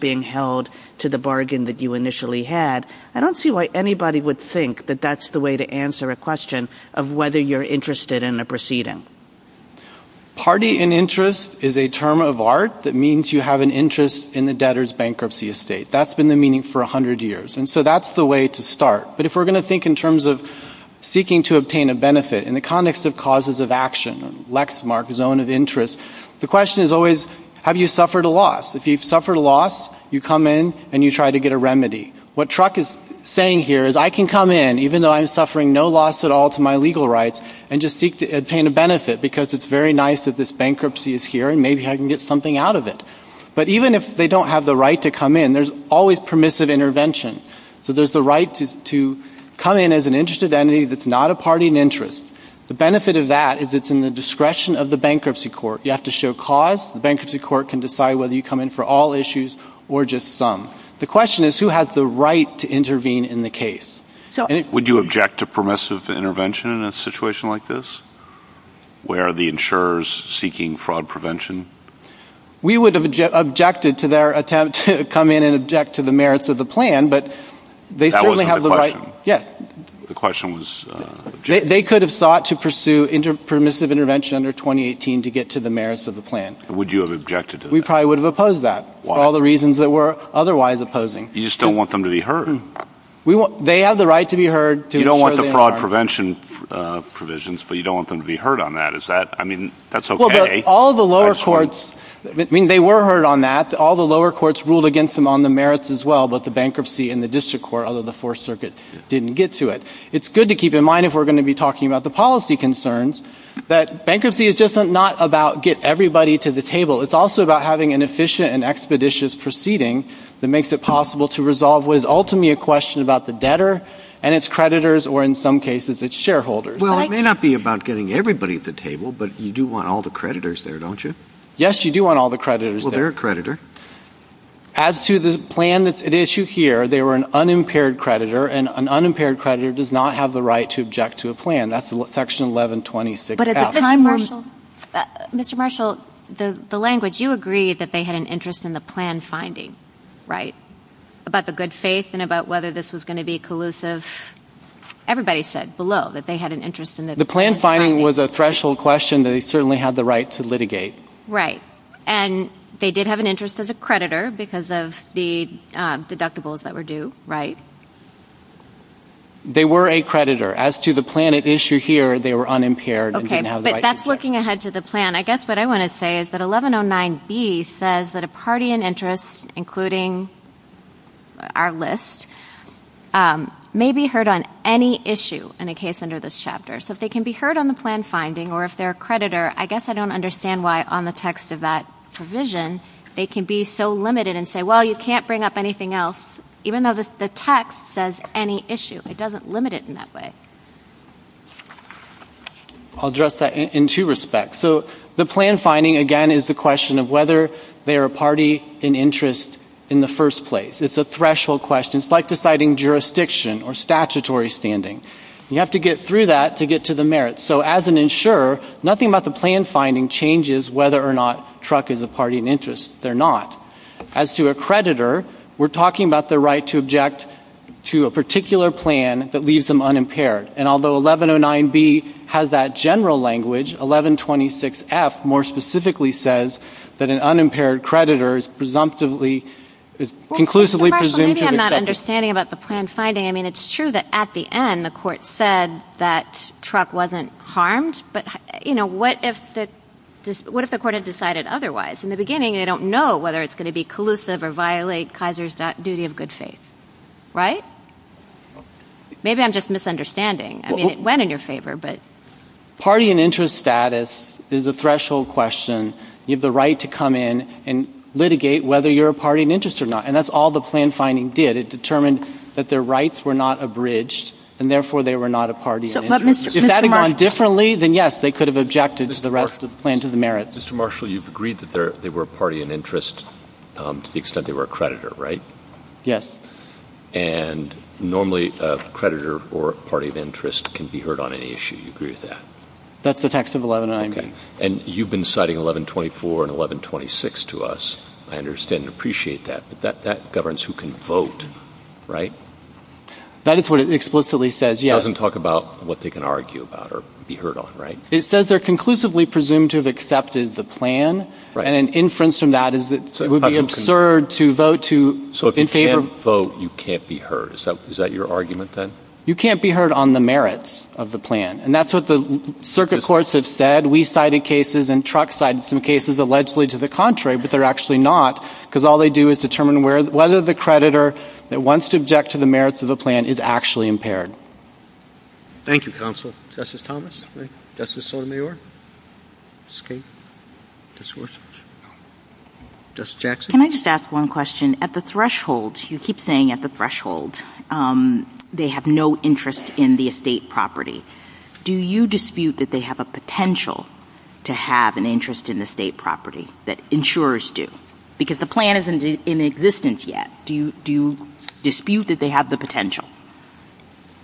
being held to the bargain that you initially had, I don't see why anybody would think that that's the way to answer a question of whether you're interested in a proceeding. Party and interest is a term of art that means you have an interest in the debtor's bankruptcy estate. That's been the meaning for 100 years, and so that's the way to start. But if we're going to think in terms of seeking to obtain a benefit, in the context of causes of action, Lexmark, zone of interest, the question is always, have you suffered a loss? If you've suffered a loss, you come in and you try to get a remedy. What Truck is saying here is, I can come in, even though I'm suffering no loss at all to my legal rights, and just seek to obtain a benefit because it's very nice that this bankruptcy is here and maybe I can get something out of it. But even if they don't have the right to come in, there's always permissive intervention. So there's the right to come in as an interested entity that's not a party and interest. The benefit of that is it's in the discretion of the bankruptcy court. You have to show cause. The bankruptcy court can decide whether you come in for all issues or just some. The question is, who has the right to intervene in the case? Would you object to permissive intervention in a situation like this, where the insurer is seeking fraud prevention? We would have objected to their attempt to come in and object to the merits of the plan, but they certainly have the right. That wasn't the question. Yes. The question was. They could have sought to pursue permissive intervention under 2018 to get to the merits of the plan. Would you have objected to that? We probably would have opposed that for all the reasons that we're otherwise opposing. You just don't want them to be hurt. They have the right to be hurt. You don't want the fraud prevention provisions, but you don't want them to be hurt on that. Is that, I mean, that's okay. All the lower courts, I mean, they were hurt on that. All the lower courts ruled against them on the merits as well, but the bankruptcy and the district court, other than the Fourth Circuit, didn't get to it. It's good to keep in mind, if we're going to be talking about the policy concerns, that bankruptcy is just not about get everybody to the table. It's also about having an efficient and expeditious proceeding that makes it possible to resolve what is ultimately a question about the debtor and its creditors, or in some cases, its shareholders. Well, it may not be about getting everybody at the table, but you do want all the creditors there, don't you? Yes, you do want all the creditors there. Well, they're a creditor. As to the plan at issue here, they were an unimpaired creditor, and an unimpaired creditor does not have the right to object to a plan. That's Section 1126F. Mr. Marshall, the language, you agreed that they had an interest in the plan finding, right, about the good faith and about whether this was going to be collusive. Everybody said below that they had an interest in the plan finding. The plan finding was a threshold question that they certainly had the right to litigate. Right, and they did have an interest as a creditor because of the deductibles that were due, right? They were a creditor. As to the plan at issue here, they were unimpaired and didn't have the right to object. Okay, but that's looking ahead to the plan. I guess what I want to say is that 1109B says that a party in interest, including our list, may be heard on any issue in a case under this chapter. So if they can be heard on the plan finding or if they're a creditor, I guess I don't understand why on the text of that provision they can be so limited and say, well, you can't bring up anything else, even though the text says any issue. It doesn't limit it in that way. I'll address that in two respects. So the plan finding, again, is the question of whether they are a party in interest in the first place. It's a threshold question. It's like deciding jurisdiction or statutory standing. You have to get through that to get to the merits. So as an insurer, nothing about the plan finding changes whether or not Truck is a party in interest. They're not. As to a creditor, we're talking about the right to object to a particular plan that leaves them unimpaired. And although 1109B has that general language, 1126F more specifically says that an unimpaired creditor is presumptively, is conclusively presumed to be a creditor. Maybe I'm not understanding about the plan finding. I mean, it's true that at the end the court said that Truck wasn't harmed, but, you know, what if the court had decided otherwise? In the beginning, they don't know whether it's going to be collusive or violate Kaiser's duty of good faith. Right? Maybe I'm just misunderstanding. I mean, it went in your favor, but... Party in interest status is a threshold question. You have the right to come in and litigate whether you're a party in interest or not, and that's all the plan finding did. It determined that their rights were not abridged, and therefore they were not a party in interest. If that had gone differently, then, yes, they could have objected to the rest of the plan to the merits. Mr. Marshall, you've agreed that they were a party in interest to the extent they were a creditor, right? Yes. And normally a creditor or a party of interest can be heard on any issue. You agree with that? That's the text of 11.9. And you've been citing 11.24 and 11.26 to us. I understand and appreciate that, but that governs who can vote, right? That is what it explicitly says, yes. It doesn't talk about what they can argue about or be heard on, right? It says they're conclusively presumed to have accepted the plan, and an inference from that is it would be absurd to vote to in favor of the plan. So if you can't vote, you can't be heard. Is that your argument, then? You can't be heard on the merits of the plan, and that's what the circuit courts have said. We cited cases and Truck cited some cases allegedly to the contrary, but they're actually not, because all they do is determine whether the creditor that wants to object to the merits of the plan is actually impaired. Thank you, Counsel. Justice Thomas? Justice Sotomayor? Justice Kagan? Justice Gorsuch? Justice Jackson? Can I just ask one question? At the threshold, you keep saying at the threshold, they have no interest in the estate property. Do you dispute that they have a potential to have an interest in the estate property, that insurers do? Because the plan isn't in existence yet. Do you dispute that they have the potential?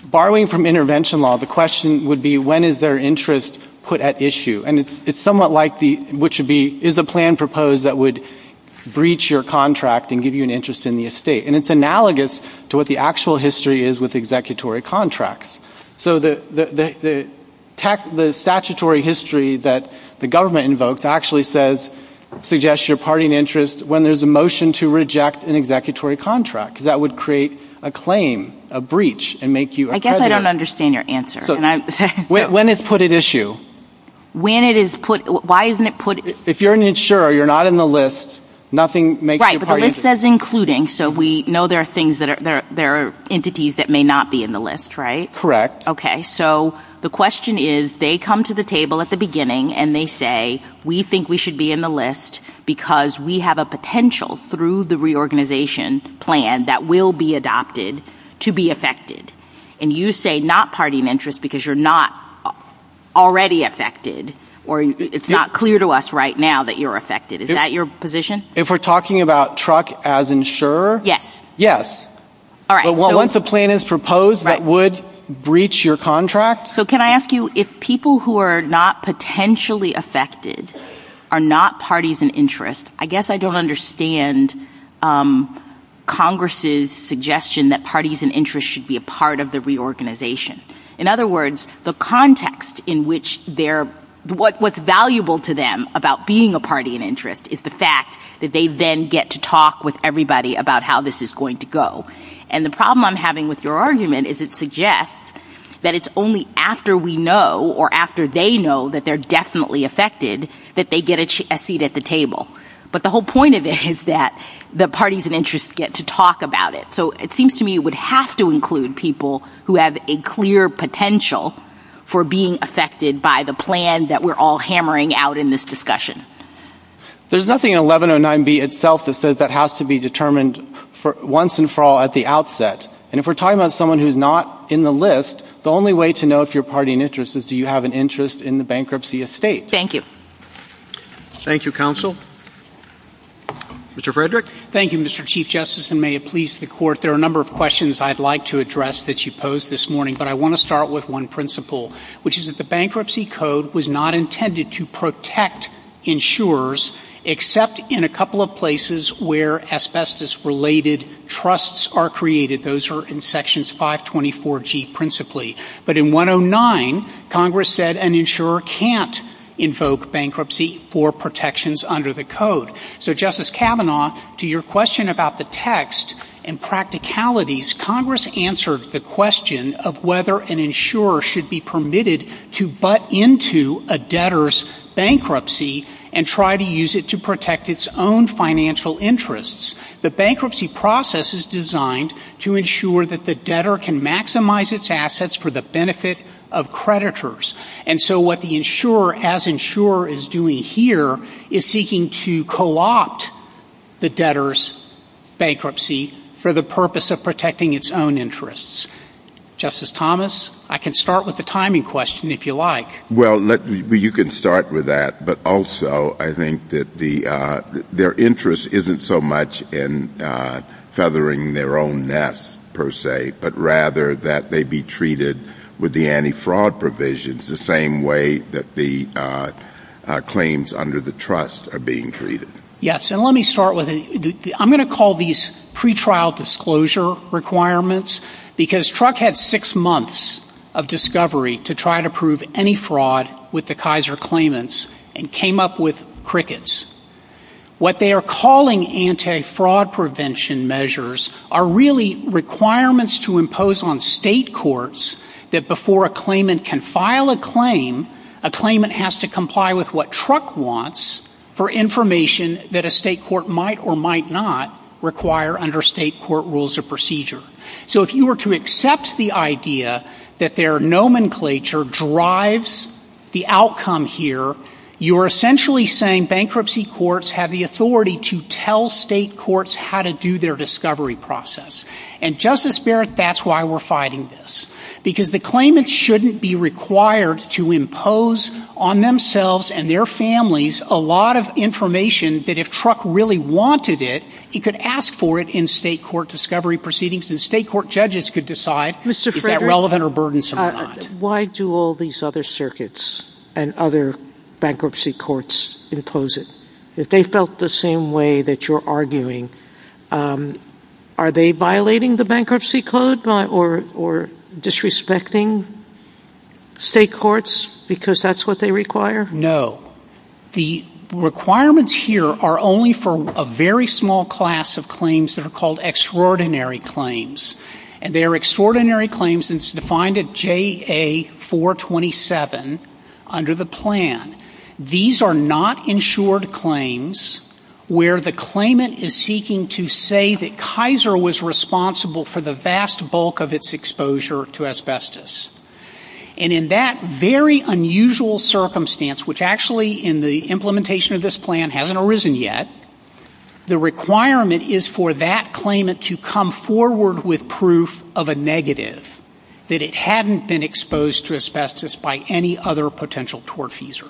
Borrowing from intervention law, the question would be when is their interest put at issue, and it's somewhat like what should be, is a plan proposed that would breach your contract and give you an interest in the estate, and it's analogous to what the actual history is with executory contracts. So the statutory history that the government invokes actually says, suggests your party and interest when there's a motion to reject an executory contract. That would create a claim, a breach, and make you a creditor. I guess I don't understand your answer. When is put at issue? When it is put, why isn't it put? If you're an insurer, you're not in the list, nothing makes you part of the list. Right, but the list says including, so we know there are entities that may not be in the list, right? Correct. Okay, so the question is, they come to the table at the beginning and they say, we think we should be in the list because we have a potential through the reorganization plan that will be adopted to be affected. And you say not party and interest because you're not already affected, or it's not clear to us right now that you're affected. Is that your position? If we're talking about truck as insurer? Yes. Yes. But once a plan is proposed, that would breach your contract? So can I ask you, if people who are not potentially affected are not parties and interest, I guess I don't understand Congress' suggestion that parties and interest should be a part of the reorganization. In other words, the context in which they're, what's valuable to them about being a party and interest is the fact that they then get to talk with everybody about how this is going to go. And the problem I'm having with your argument is it suggests that it's only after we know or after they know that they're definitely affected that they get a seat at the table. But the whole point of it is that the parties and interest get to talk about it. So it seems to me it would have to include people who have a clear potential for being affected by the plan that we're all hammering out in this discussion. There's nothing in 1109B itself that says that has to be determined once and for all at the outset. And if we're talking about someone who's not in the list, the only way to know if you're a party and interest is do you have an interest in the bankruptcy estate. Thank you. Thank you, Counsel. Mr. Frederick? Thank you, Mr. Chief Justice, and may it please the Court, there are a number of questions I'd like to address that you posed this morning, but I want to start with one principle, which is that the Bankruptcy Code was not intended to protect insurers except in a couple of places where asbestos-related trusts are created. Those are in Sections 524G principally. But in 109, Congress said an insurer can't invoke bankruptcy for protections under the Code. So, Justice Kavanaugh, to your question about the text and practicalities, Congress answered the question of whether an insurer should be permitted to butt into a debtor's bankruptcy and try to use it to protect its own financial interests. The bankruptcy process is designed to ensure that the debtor can maximize its assets for the benefit of creditors. And so what the insurer, as insurer is doing here, is seeking to co-opt the debtor's bankruptcy for the purpose of protecting its own interests. Justice Thomas, I can start with the timing question, if you like. Well, you can start with that. But also, I think that their interest isn't so much in feathering their own nest, per se, but rather that they be treated with the anti-fraud provisions the same way that the claims under the trust are being treated. Yes, and let me start with, I'm going to call these pre-trial disclosure requirements because Truck had six months of discovery to try to prove any fraud with the Kaiser claimants and came up with crickets. What they are calling anti-fraud prevention measures are really requirements to impose on state courts that before a claimant can file a claim, a claimant has to comply with what Truck wants for information that a state court might or might not require under state court rules of procedure. So if you were to accept the idea that their nomenclature drives the outcome here, you're essentially saying bankruptcy courts have the authority to tell state courts how to do their discovery process. And Justice Barrett, that's why we're fighting this. Because the claimants shouldn't be required to impose on themselves and their families a lot of information that if Truck really wanted it, he could ask for it in state court discovery proceedings and state court judges could decide if that's relevant or burdensome or not. Why do all these other circuits and other bankruptcy courts impose it? If they felt the same way that you're arguing, are they violating the bankruptcy code or disrespecting state courts because that's what they require? No. The requirements here are only for a very small class of claims that are called extraordinary claims. And they are extraordinary claims and it's defined at JA-427 under the plan. These are not insured claims where the claimant is seeking to say that Kaiser was responsible for the vast bulk of its exposure to asbestos. And in that very unusual circumstance, which actually in the implementation of this plan hasn't arisen yet, the requirement is for that claimant to come forward with proof of a negative, that it hadn't been exposed to asbestos by any other potential tortfeasor.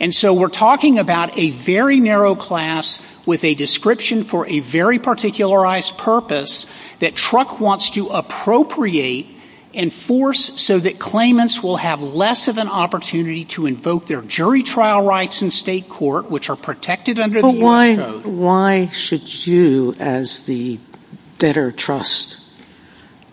And so we're talking about a very narrow class with a description for a very particularized purpose that Truck wants to appropriate and force so that claimants will have less of an opportunity to invoke their jury trial rights in state court, which are protected under the age code. Why should you, as the better trust,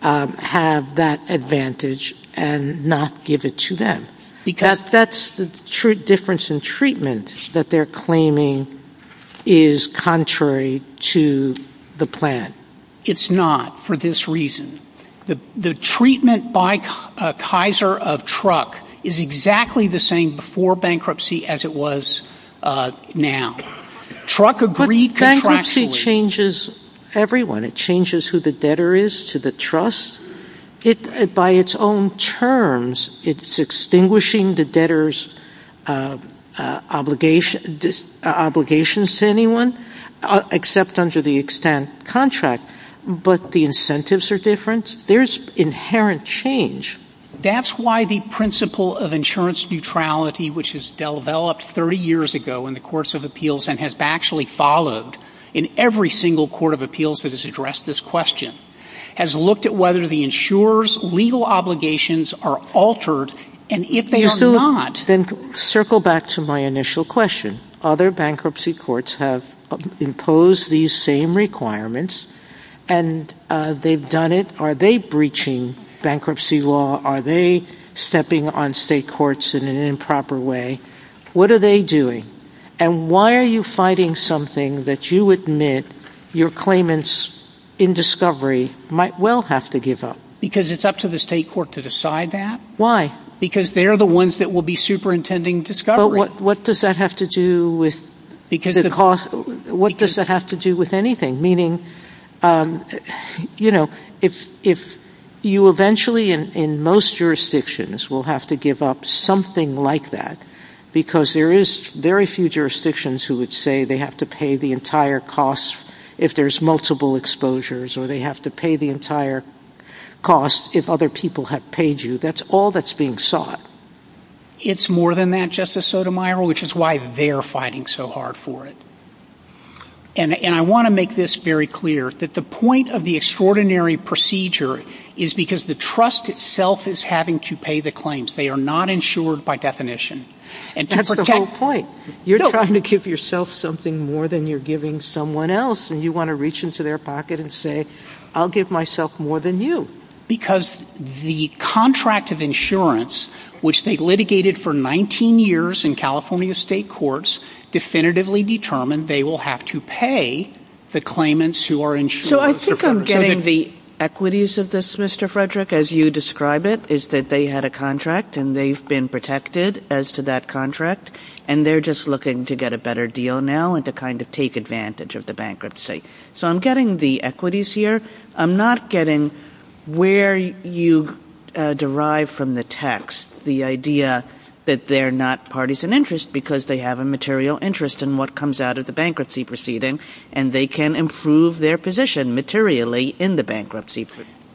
have that advantage and not give it to them? Because that's the difference in treatment that they're claiming is contrary to the plan. It's not for this reason. The treatment by Kaiser of Truck is exactly the same before bankruptcy as it was now. Bankruptcy changes everyone. It changes who the debtor is to the trust. By its own terms, it's extinguishing the debtor's obligations to anyone, except under the extant contract, but the incentives are different. There's inherent change. That's why the principle of insurance neutrality, which has developed 30 years ago in the courts of appeals and has actually followed in every single court of appeals that has addressed this question, has looked at whether the insurer's legal obligations are altered, and if they are not... ...impose these same requirements, and they've done it. Are they breaching bankruptcy law? Are they stepping on state courts in an improper way? What are they doing? And why are you fighting something that you admit your claimants in discovery might well have to give up? Because it's up to the state court to decide that. Why? Because they're the ones that will be superintending discovery. But what does that have to do with the cost? What does that have to do with anything? Meaning, you know, if you eventually, in most jurisdictions, will have to give up something like that, because there is very few jurisdictions who would say they have to pay the entire cost if there's multiple exposures, or they have to pay the entire cost if other people have paid you. That's all that's being sought. It's more than that, Justice Sotomayor, which is why they're fighting so hard for it. And I want to make this very clear, that the point of the extraordinary procedure is because the trust itself is having to pay the claims. They are not insured by definition. That's the whole point. You're trying to give yourself something more than you're giving someone else, and you want to reach into their pocket and say, I'll give myself more than you. Because the contract of insurance, which they've litigated for 19 years in California state courts, definitively determined they will have to pay the claimants who are insured. So I think I'm getting the equities of this, Mr. Frederick, as you describe it, is that they had a contract and they've been protected as to that contract, and they're just looking to get a better deal now and to kind of take advantage of the bankruptcy. So I'm getting the equities here. I'm not getting where you derive from the text the idea that they're not parties in interest because they have a material interest in what comes out of the bankruptcy proceeding, and they can improve their position materially in the bankruptcy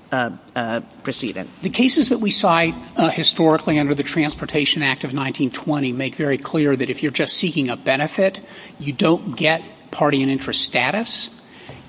proceeding. The cases that we saw historically under the Transportation Act of 1920 make very clear that if you're just seeking a benefit, you don't get party and interest status.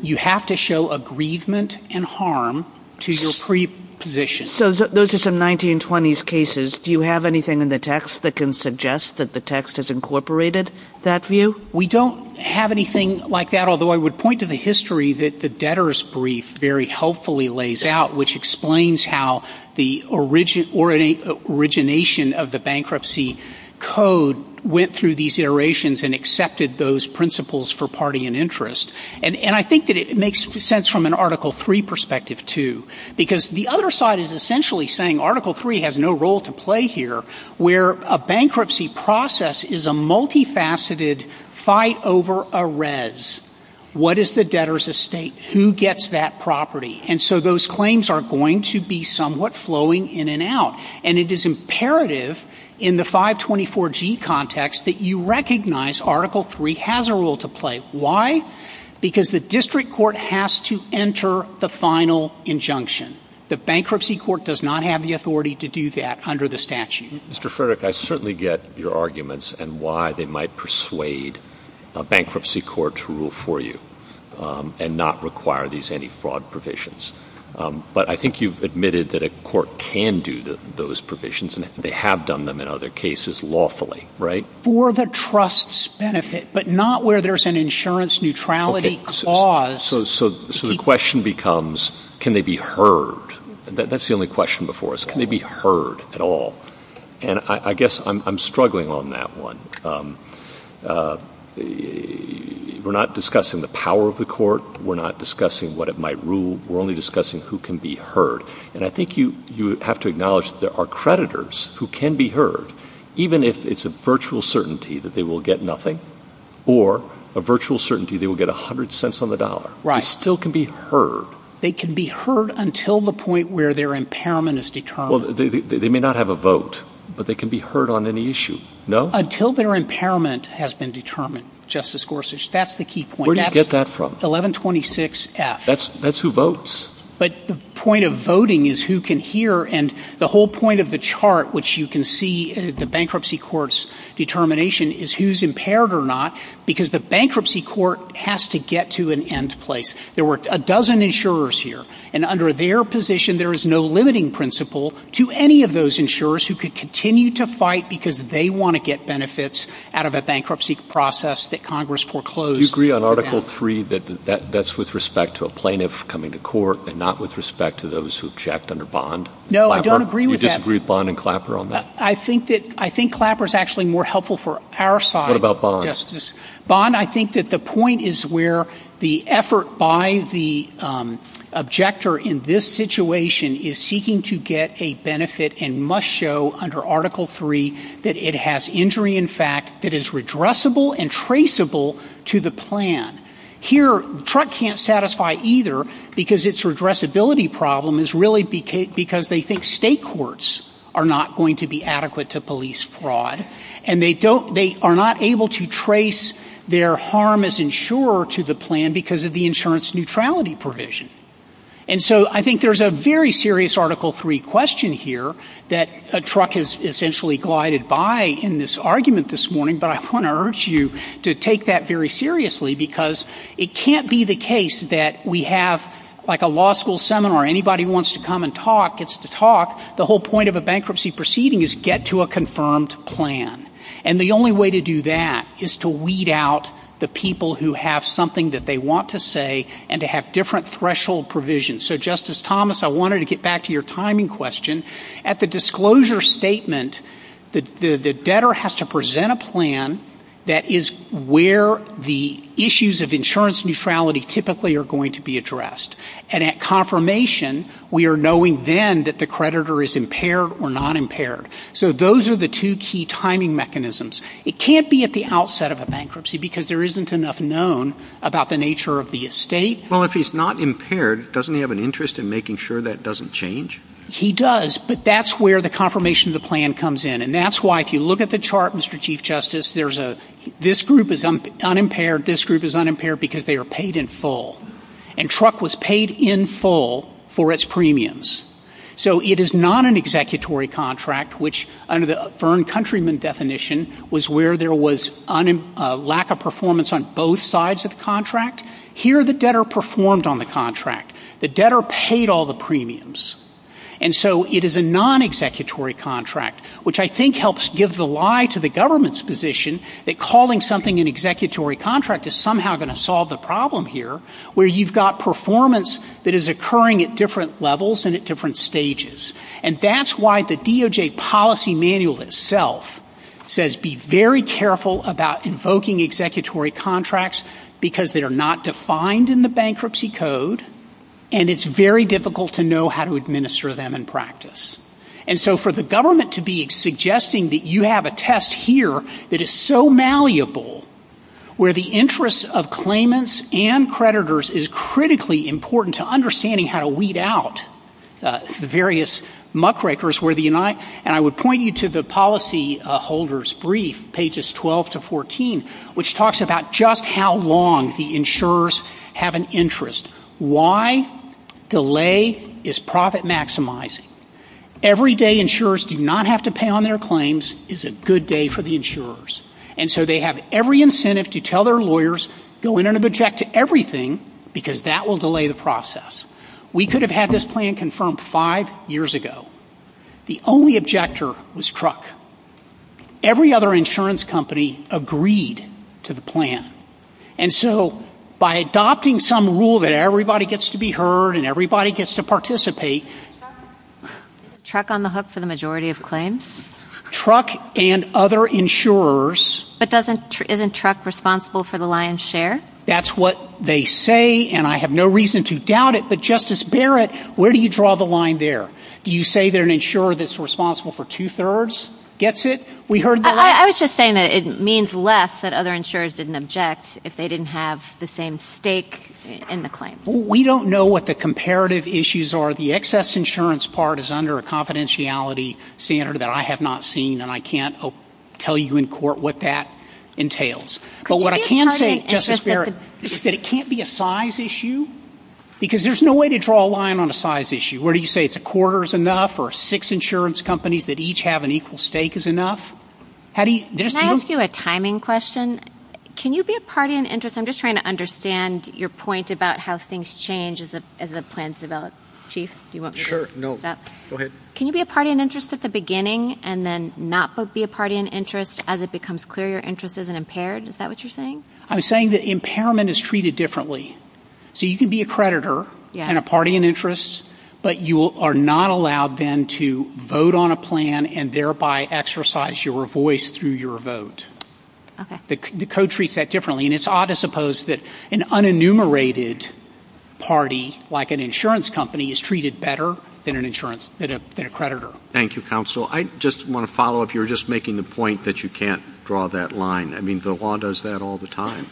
You have to show aggrievement and harm to your preposition. So those are some 1920s cases. Do you have anything in the text that can suggest that the text has incorporated that view? We don't have anything like that, although I would point to the history that the debtor's brief very helpfully lays out, which explains how the origination of the bankruptcy code went through these iterations and accepted those principles for party and interest. And I think that it makes sense from an Article III perspective too because the other side is essentially saying Article III has no role to play here where a bankruptcy process is a multifaceted fight over a res. What is the debtor's estate? Who gets that property? And so those claims are going to be somewhat flowing in and out, and it is imperative in the 524G context that you recognize Article III has a role to play. Why? Because the district court has to enter the final injunction. The bankruptcy court does not have the authority to do that under the statute. Mr. Frederick, I certainly get your arguments and why they might persuade a bankruptcy court to rule for you and not require these anti-fraud provisions, but I think you've admitted that a court can do those provisions, and they have done them in other cases lawfully, right? For the trust's benefit, but not where there's an insurance neutrality clause. So the question becomes, can they be heard? That's the only question before us. Can they be heard at all? And I guess I'm struggling on that one. We're not discussing the power of the court. We're not discussing what it might rule. We're only discussing who can be heard. And I think you have to acknowledge there are creditors who can be heard, even if it's a virtual certainty that they will get nothing or a virtual certainty they will get 100 cents on the dollar. They still can be heard. They can be heard until the point where their impairment is determined. They may not have a vote, but they can be heard on any issue, no? Until their impairment has been determined, Justice Gorsuch. That's the key point. Where do you get that from? 1126F. That's who votes. But the point of voting is who can hear, and the whole point of the chart, which you can see, the bankruptcy court's determination is who's impaired or not, because the bankruptcy court has to get to an end place. There were a dozen insurers here, and under their position, there is no limiting principle to any of those insurers who could continue to fight because they want to get benefits out of a bankruptcy process that Congress foreclosed. Do you agree on Article III that that's with respect to a plaintiff coming to court and not with respect to those who checked under bond? No, I don't agree with that. You disagree with Bond and Clapper on that? I think Clapper's actually more helpful for our side of justice. What about Bond? Bond, I think that the point is where the effort by the objector in this situation is seeking to get a benefit and must show under Article III that it has injury in fact that is redressable and traceable to the plan. Here, Truck can't satisfy either because its redressability problem is really because they think state courts are not going to be adequate to police fraud, and they are not able to trace their harm as insurer to the plan because of the insurance neutrality provision. And so I think there's a very serious Article III question here that Truck has essentially glided by in this argument this morning, but I want to urge you to take that very seriously because it can't be the the whole point of a bankruptcy proceeding is get to a confirmed plan. And the only way to do that is to weed out the people who have something that they want to say and to have different threshold provisions. So, Justice Thomas, I wanted to get back to your timing question. At the disclosure statement, the debtor has to present a plan that is where the issues of insurance neutrality typically are going to be addressed. And at confirmation, we are knowing then that the creditor is impaired or non-impaired. So those are the two key timing mechanisms. It can't be at the outset of a bankruptcy because there isn't enough known about the nature of the estate. Well, if he's not impaired, doesn't he have an interest in making sure that doesn't change? He does, but that's where the confirmation of the plan comes in. And that's why, if you look at the chart, Mr. Chief Justice, this group is unimpaired, this group is unimpaired because they are paid in full. And truck was paid in full for its premiums. So it is not an executory contract, which under the Fern Countryman definition was where there was lack of performance on both sides of the contract. Here, the debtor performed on the contract. The debtor paid all the premiums. And so it is a non-executory contract, which I think helps give the lie to the government's position that calling something an executory contract is somehow going to solve the problem here. Where you've got performance that is occurring at different levels and at different stages. And that's why the DOJ policy manual itself says be very careful about invoking executory contracts because they are not defined in the bankruptcy code and it's very difficult to know how to administer them in practice. And so for the government to be suggesting that you have a test here that is so malleable where the interest of claimants and creditors is critically important to understanding how to weed out the various muckrakers. And I would point you to the policy holder's brief, pages 12 to 14, which talks about just how long the insurers have an interest. Why delay is profit maximizing. Every day insurers do not have to pay on their claims is a good day for the insurers. And so they have every incentive to tell their lawyers go in and object to everything because that will delay the process. We could have had this plan confirmed five years ago. The only objector was truck. Every other insurance company agreed to the plan. And so by adopting some rule that everybody gets to be heard and everybody gets to participate. Truck on the hook for the majority of claims? Truck and other insurers. But isn't truck responsible for the lion's share? That's what they say, and I have no reason to doubt it. But Justice Barrett, where do you draw the line there? Do you say that an insurer that's responsible for two-thirds gets it? I was just saying that it means less that other insurers didn't object if they didn't have the same stake in the claim. We don't know what the comparative issues are. The excess insurance part is under a confidentiality standard that I have not seen, and I can't tell you in court what that entails. But what I can say, Justice Barrett, is that it can't be a size issue because there's no way to draw a line on a size issue. Where do you say it's a quarter is enough or six insurance companies that each have an equal stake is enough? Can I ask you a timing question? Can you be a party in interest? I'm just trying to understand your point about how things change as the plans develop. Chief, do you want me to answer that? Can you be a party in interest at the beginning and then not be a party in interest as it becomes clear your interest isn't impaired? Is that what you're saying? I'm saying that impairment is treated differently. So you can be a creditor and a party in interest, but you are not allowed then to vote on a plan and thereby exercise your voice through your vote. The code treats that differently, and it's odd to suppose that an unenumerated party like an insurance company is treated better than a creditor. Thank you, Counsel. I just want to follow up. You were just making the point that you can't draw that line. I mean, the law does that all the time,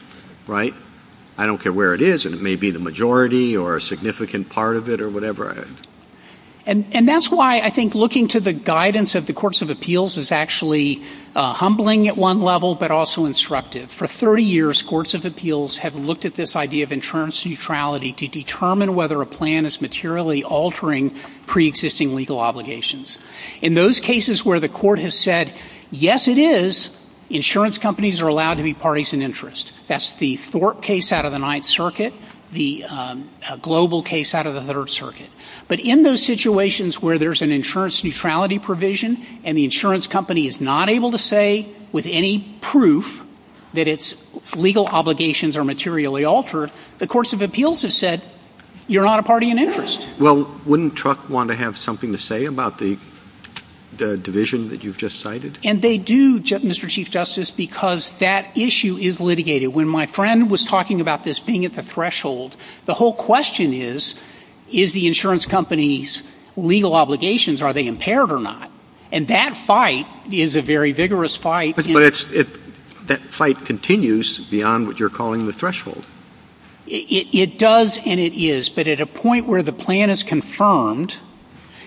right? I don't care where it is, and it may be the majority or a significant part of it or whatever. And that's why I think looking to the guidance of the courts of appeals is actually humbling at one level but also instructive. For 30 years, courts of appeals have looked at this idea of insurance neutrality to determine whether a plan is materially altering preexisting legal obligations. In those cases where the court has said, yes, it is, insurance companies are allowed to be parties in interest. That's the Thorpe case out of the Ninth Circuit, the Global case out of the Third Circuit. But in those situations where there's an insurance neutrality provision and the insurance company is not able to say with any proof that its legal obligations are materially altered, the courts of appeals have said, you're not a party in interest. Well, wouldn't Truk want to have something to say about the division that you've just cited? And they do, Mr. Chief Justice, because that issue is litigated. When my friend was talking about this being at the threshold, the whole question is, is the insurance company's legal obligations, are they impaired or not? And that fight is a very vigorous fight. But that fight continues beyond what you're calling the threshold. It does and it is. But at a point where the plan is confirmed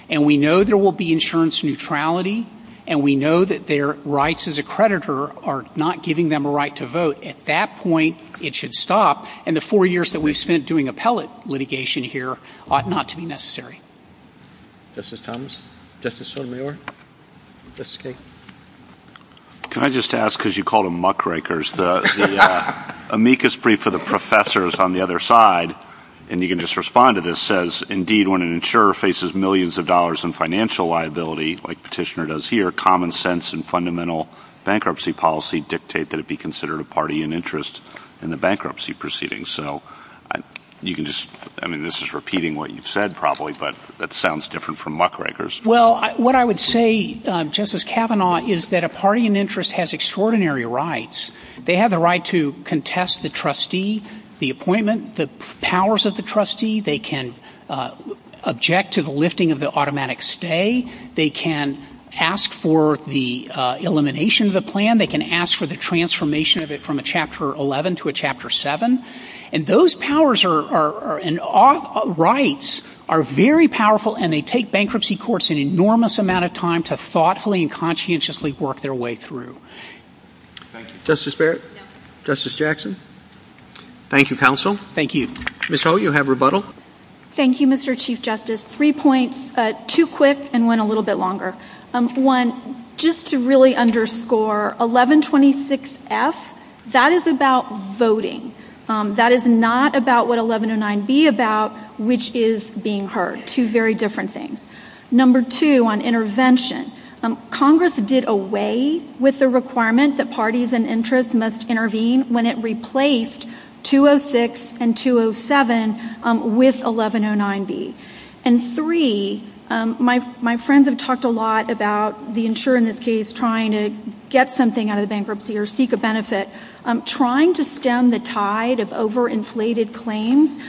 and we know there will be insurance neutrality and we know that their rights as a creditor are not giving them a right to vote, at that point it should stop. And the four years that we've spent doing appellate litigation here ought not to be necessary. Justice Thomas. Justice O'Meara. Justice Kagan. Can I just ask, because you called them muckrakers, the amicus brief of the professors on the other side, and you can just respond to this, says, indeed when an insurer faces millions of dollars in financial liability, like Petitioner does here, common sense and fundamental bankruptcy policy dictate that it be considered a party in interest in the bankruptcy proceedings. I mean, this is repeating what you've said probably, but that sounds different from muckrakers. Well, what I would say, Justice Kavanaugh, is that a party in interest has extraordinary rights. They have the right to contest the trustee, the appointment, the powers of the trustee. They can object to the lifting of the automatic stay. They can ask for the elimination of the plan. They can ask for the transformation of it from a Chapter 11 to a Chapter 7. And those powers and rights are very powerful, and they take bankruptcy courts an enormous amount of time to thoughtfully and conscientiously work their way through. Justice Barrett. Justice Jackson. Thank you, counsel. Thank you. Ms. Holt, you'll have rebuttal. Three points, two quick and one a little bit longer. One, just to really underscore, 1126F, that is about voting. That is not about what 1109B is about, which is being heard. Two very different things. Number two on intervention. Congress did away with the requirement that parties in interest must intervene when it replaced 206 and 207 with 1109B. And three, my friends have talked a lot about the insurer in this case trying to get something out of bankruptcy or seek a benefit. Trying to stem the tide of overinflated claims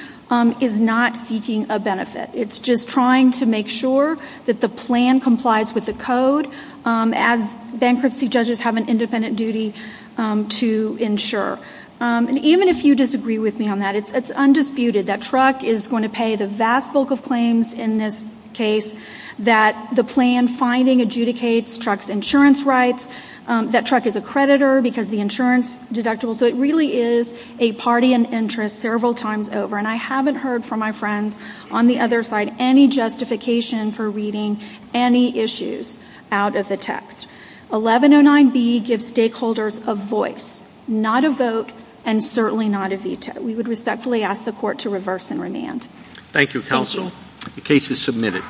is not seeking a benefit. It's just trying to make sure that the plan complies with the code as bankruptcy judges have an independent duty to insure. And even if you disagree with me on that, it's undisputed that there are a vast bulk of claims in this case that the plan finding adjudicates the truck's insurance rights, that truck is a creditor because the insurance deductible. So it really is a party in interest several times over. And I haven't heard from my friends on the other side any justification for reading any issues out of the text. 1109B gives stakeholders a voice, not a vote and certainly not a veto. We would respectfully ask the Court to reverse and remand. Thank you, Counsel. The case is submitted.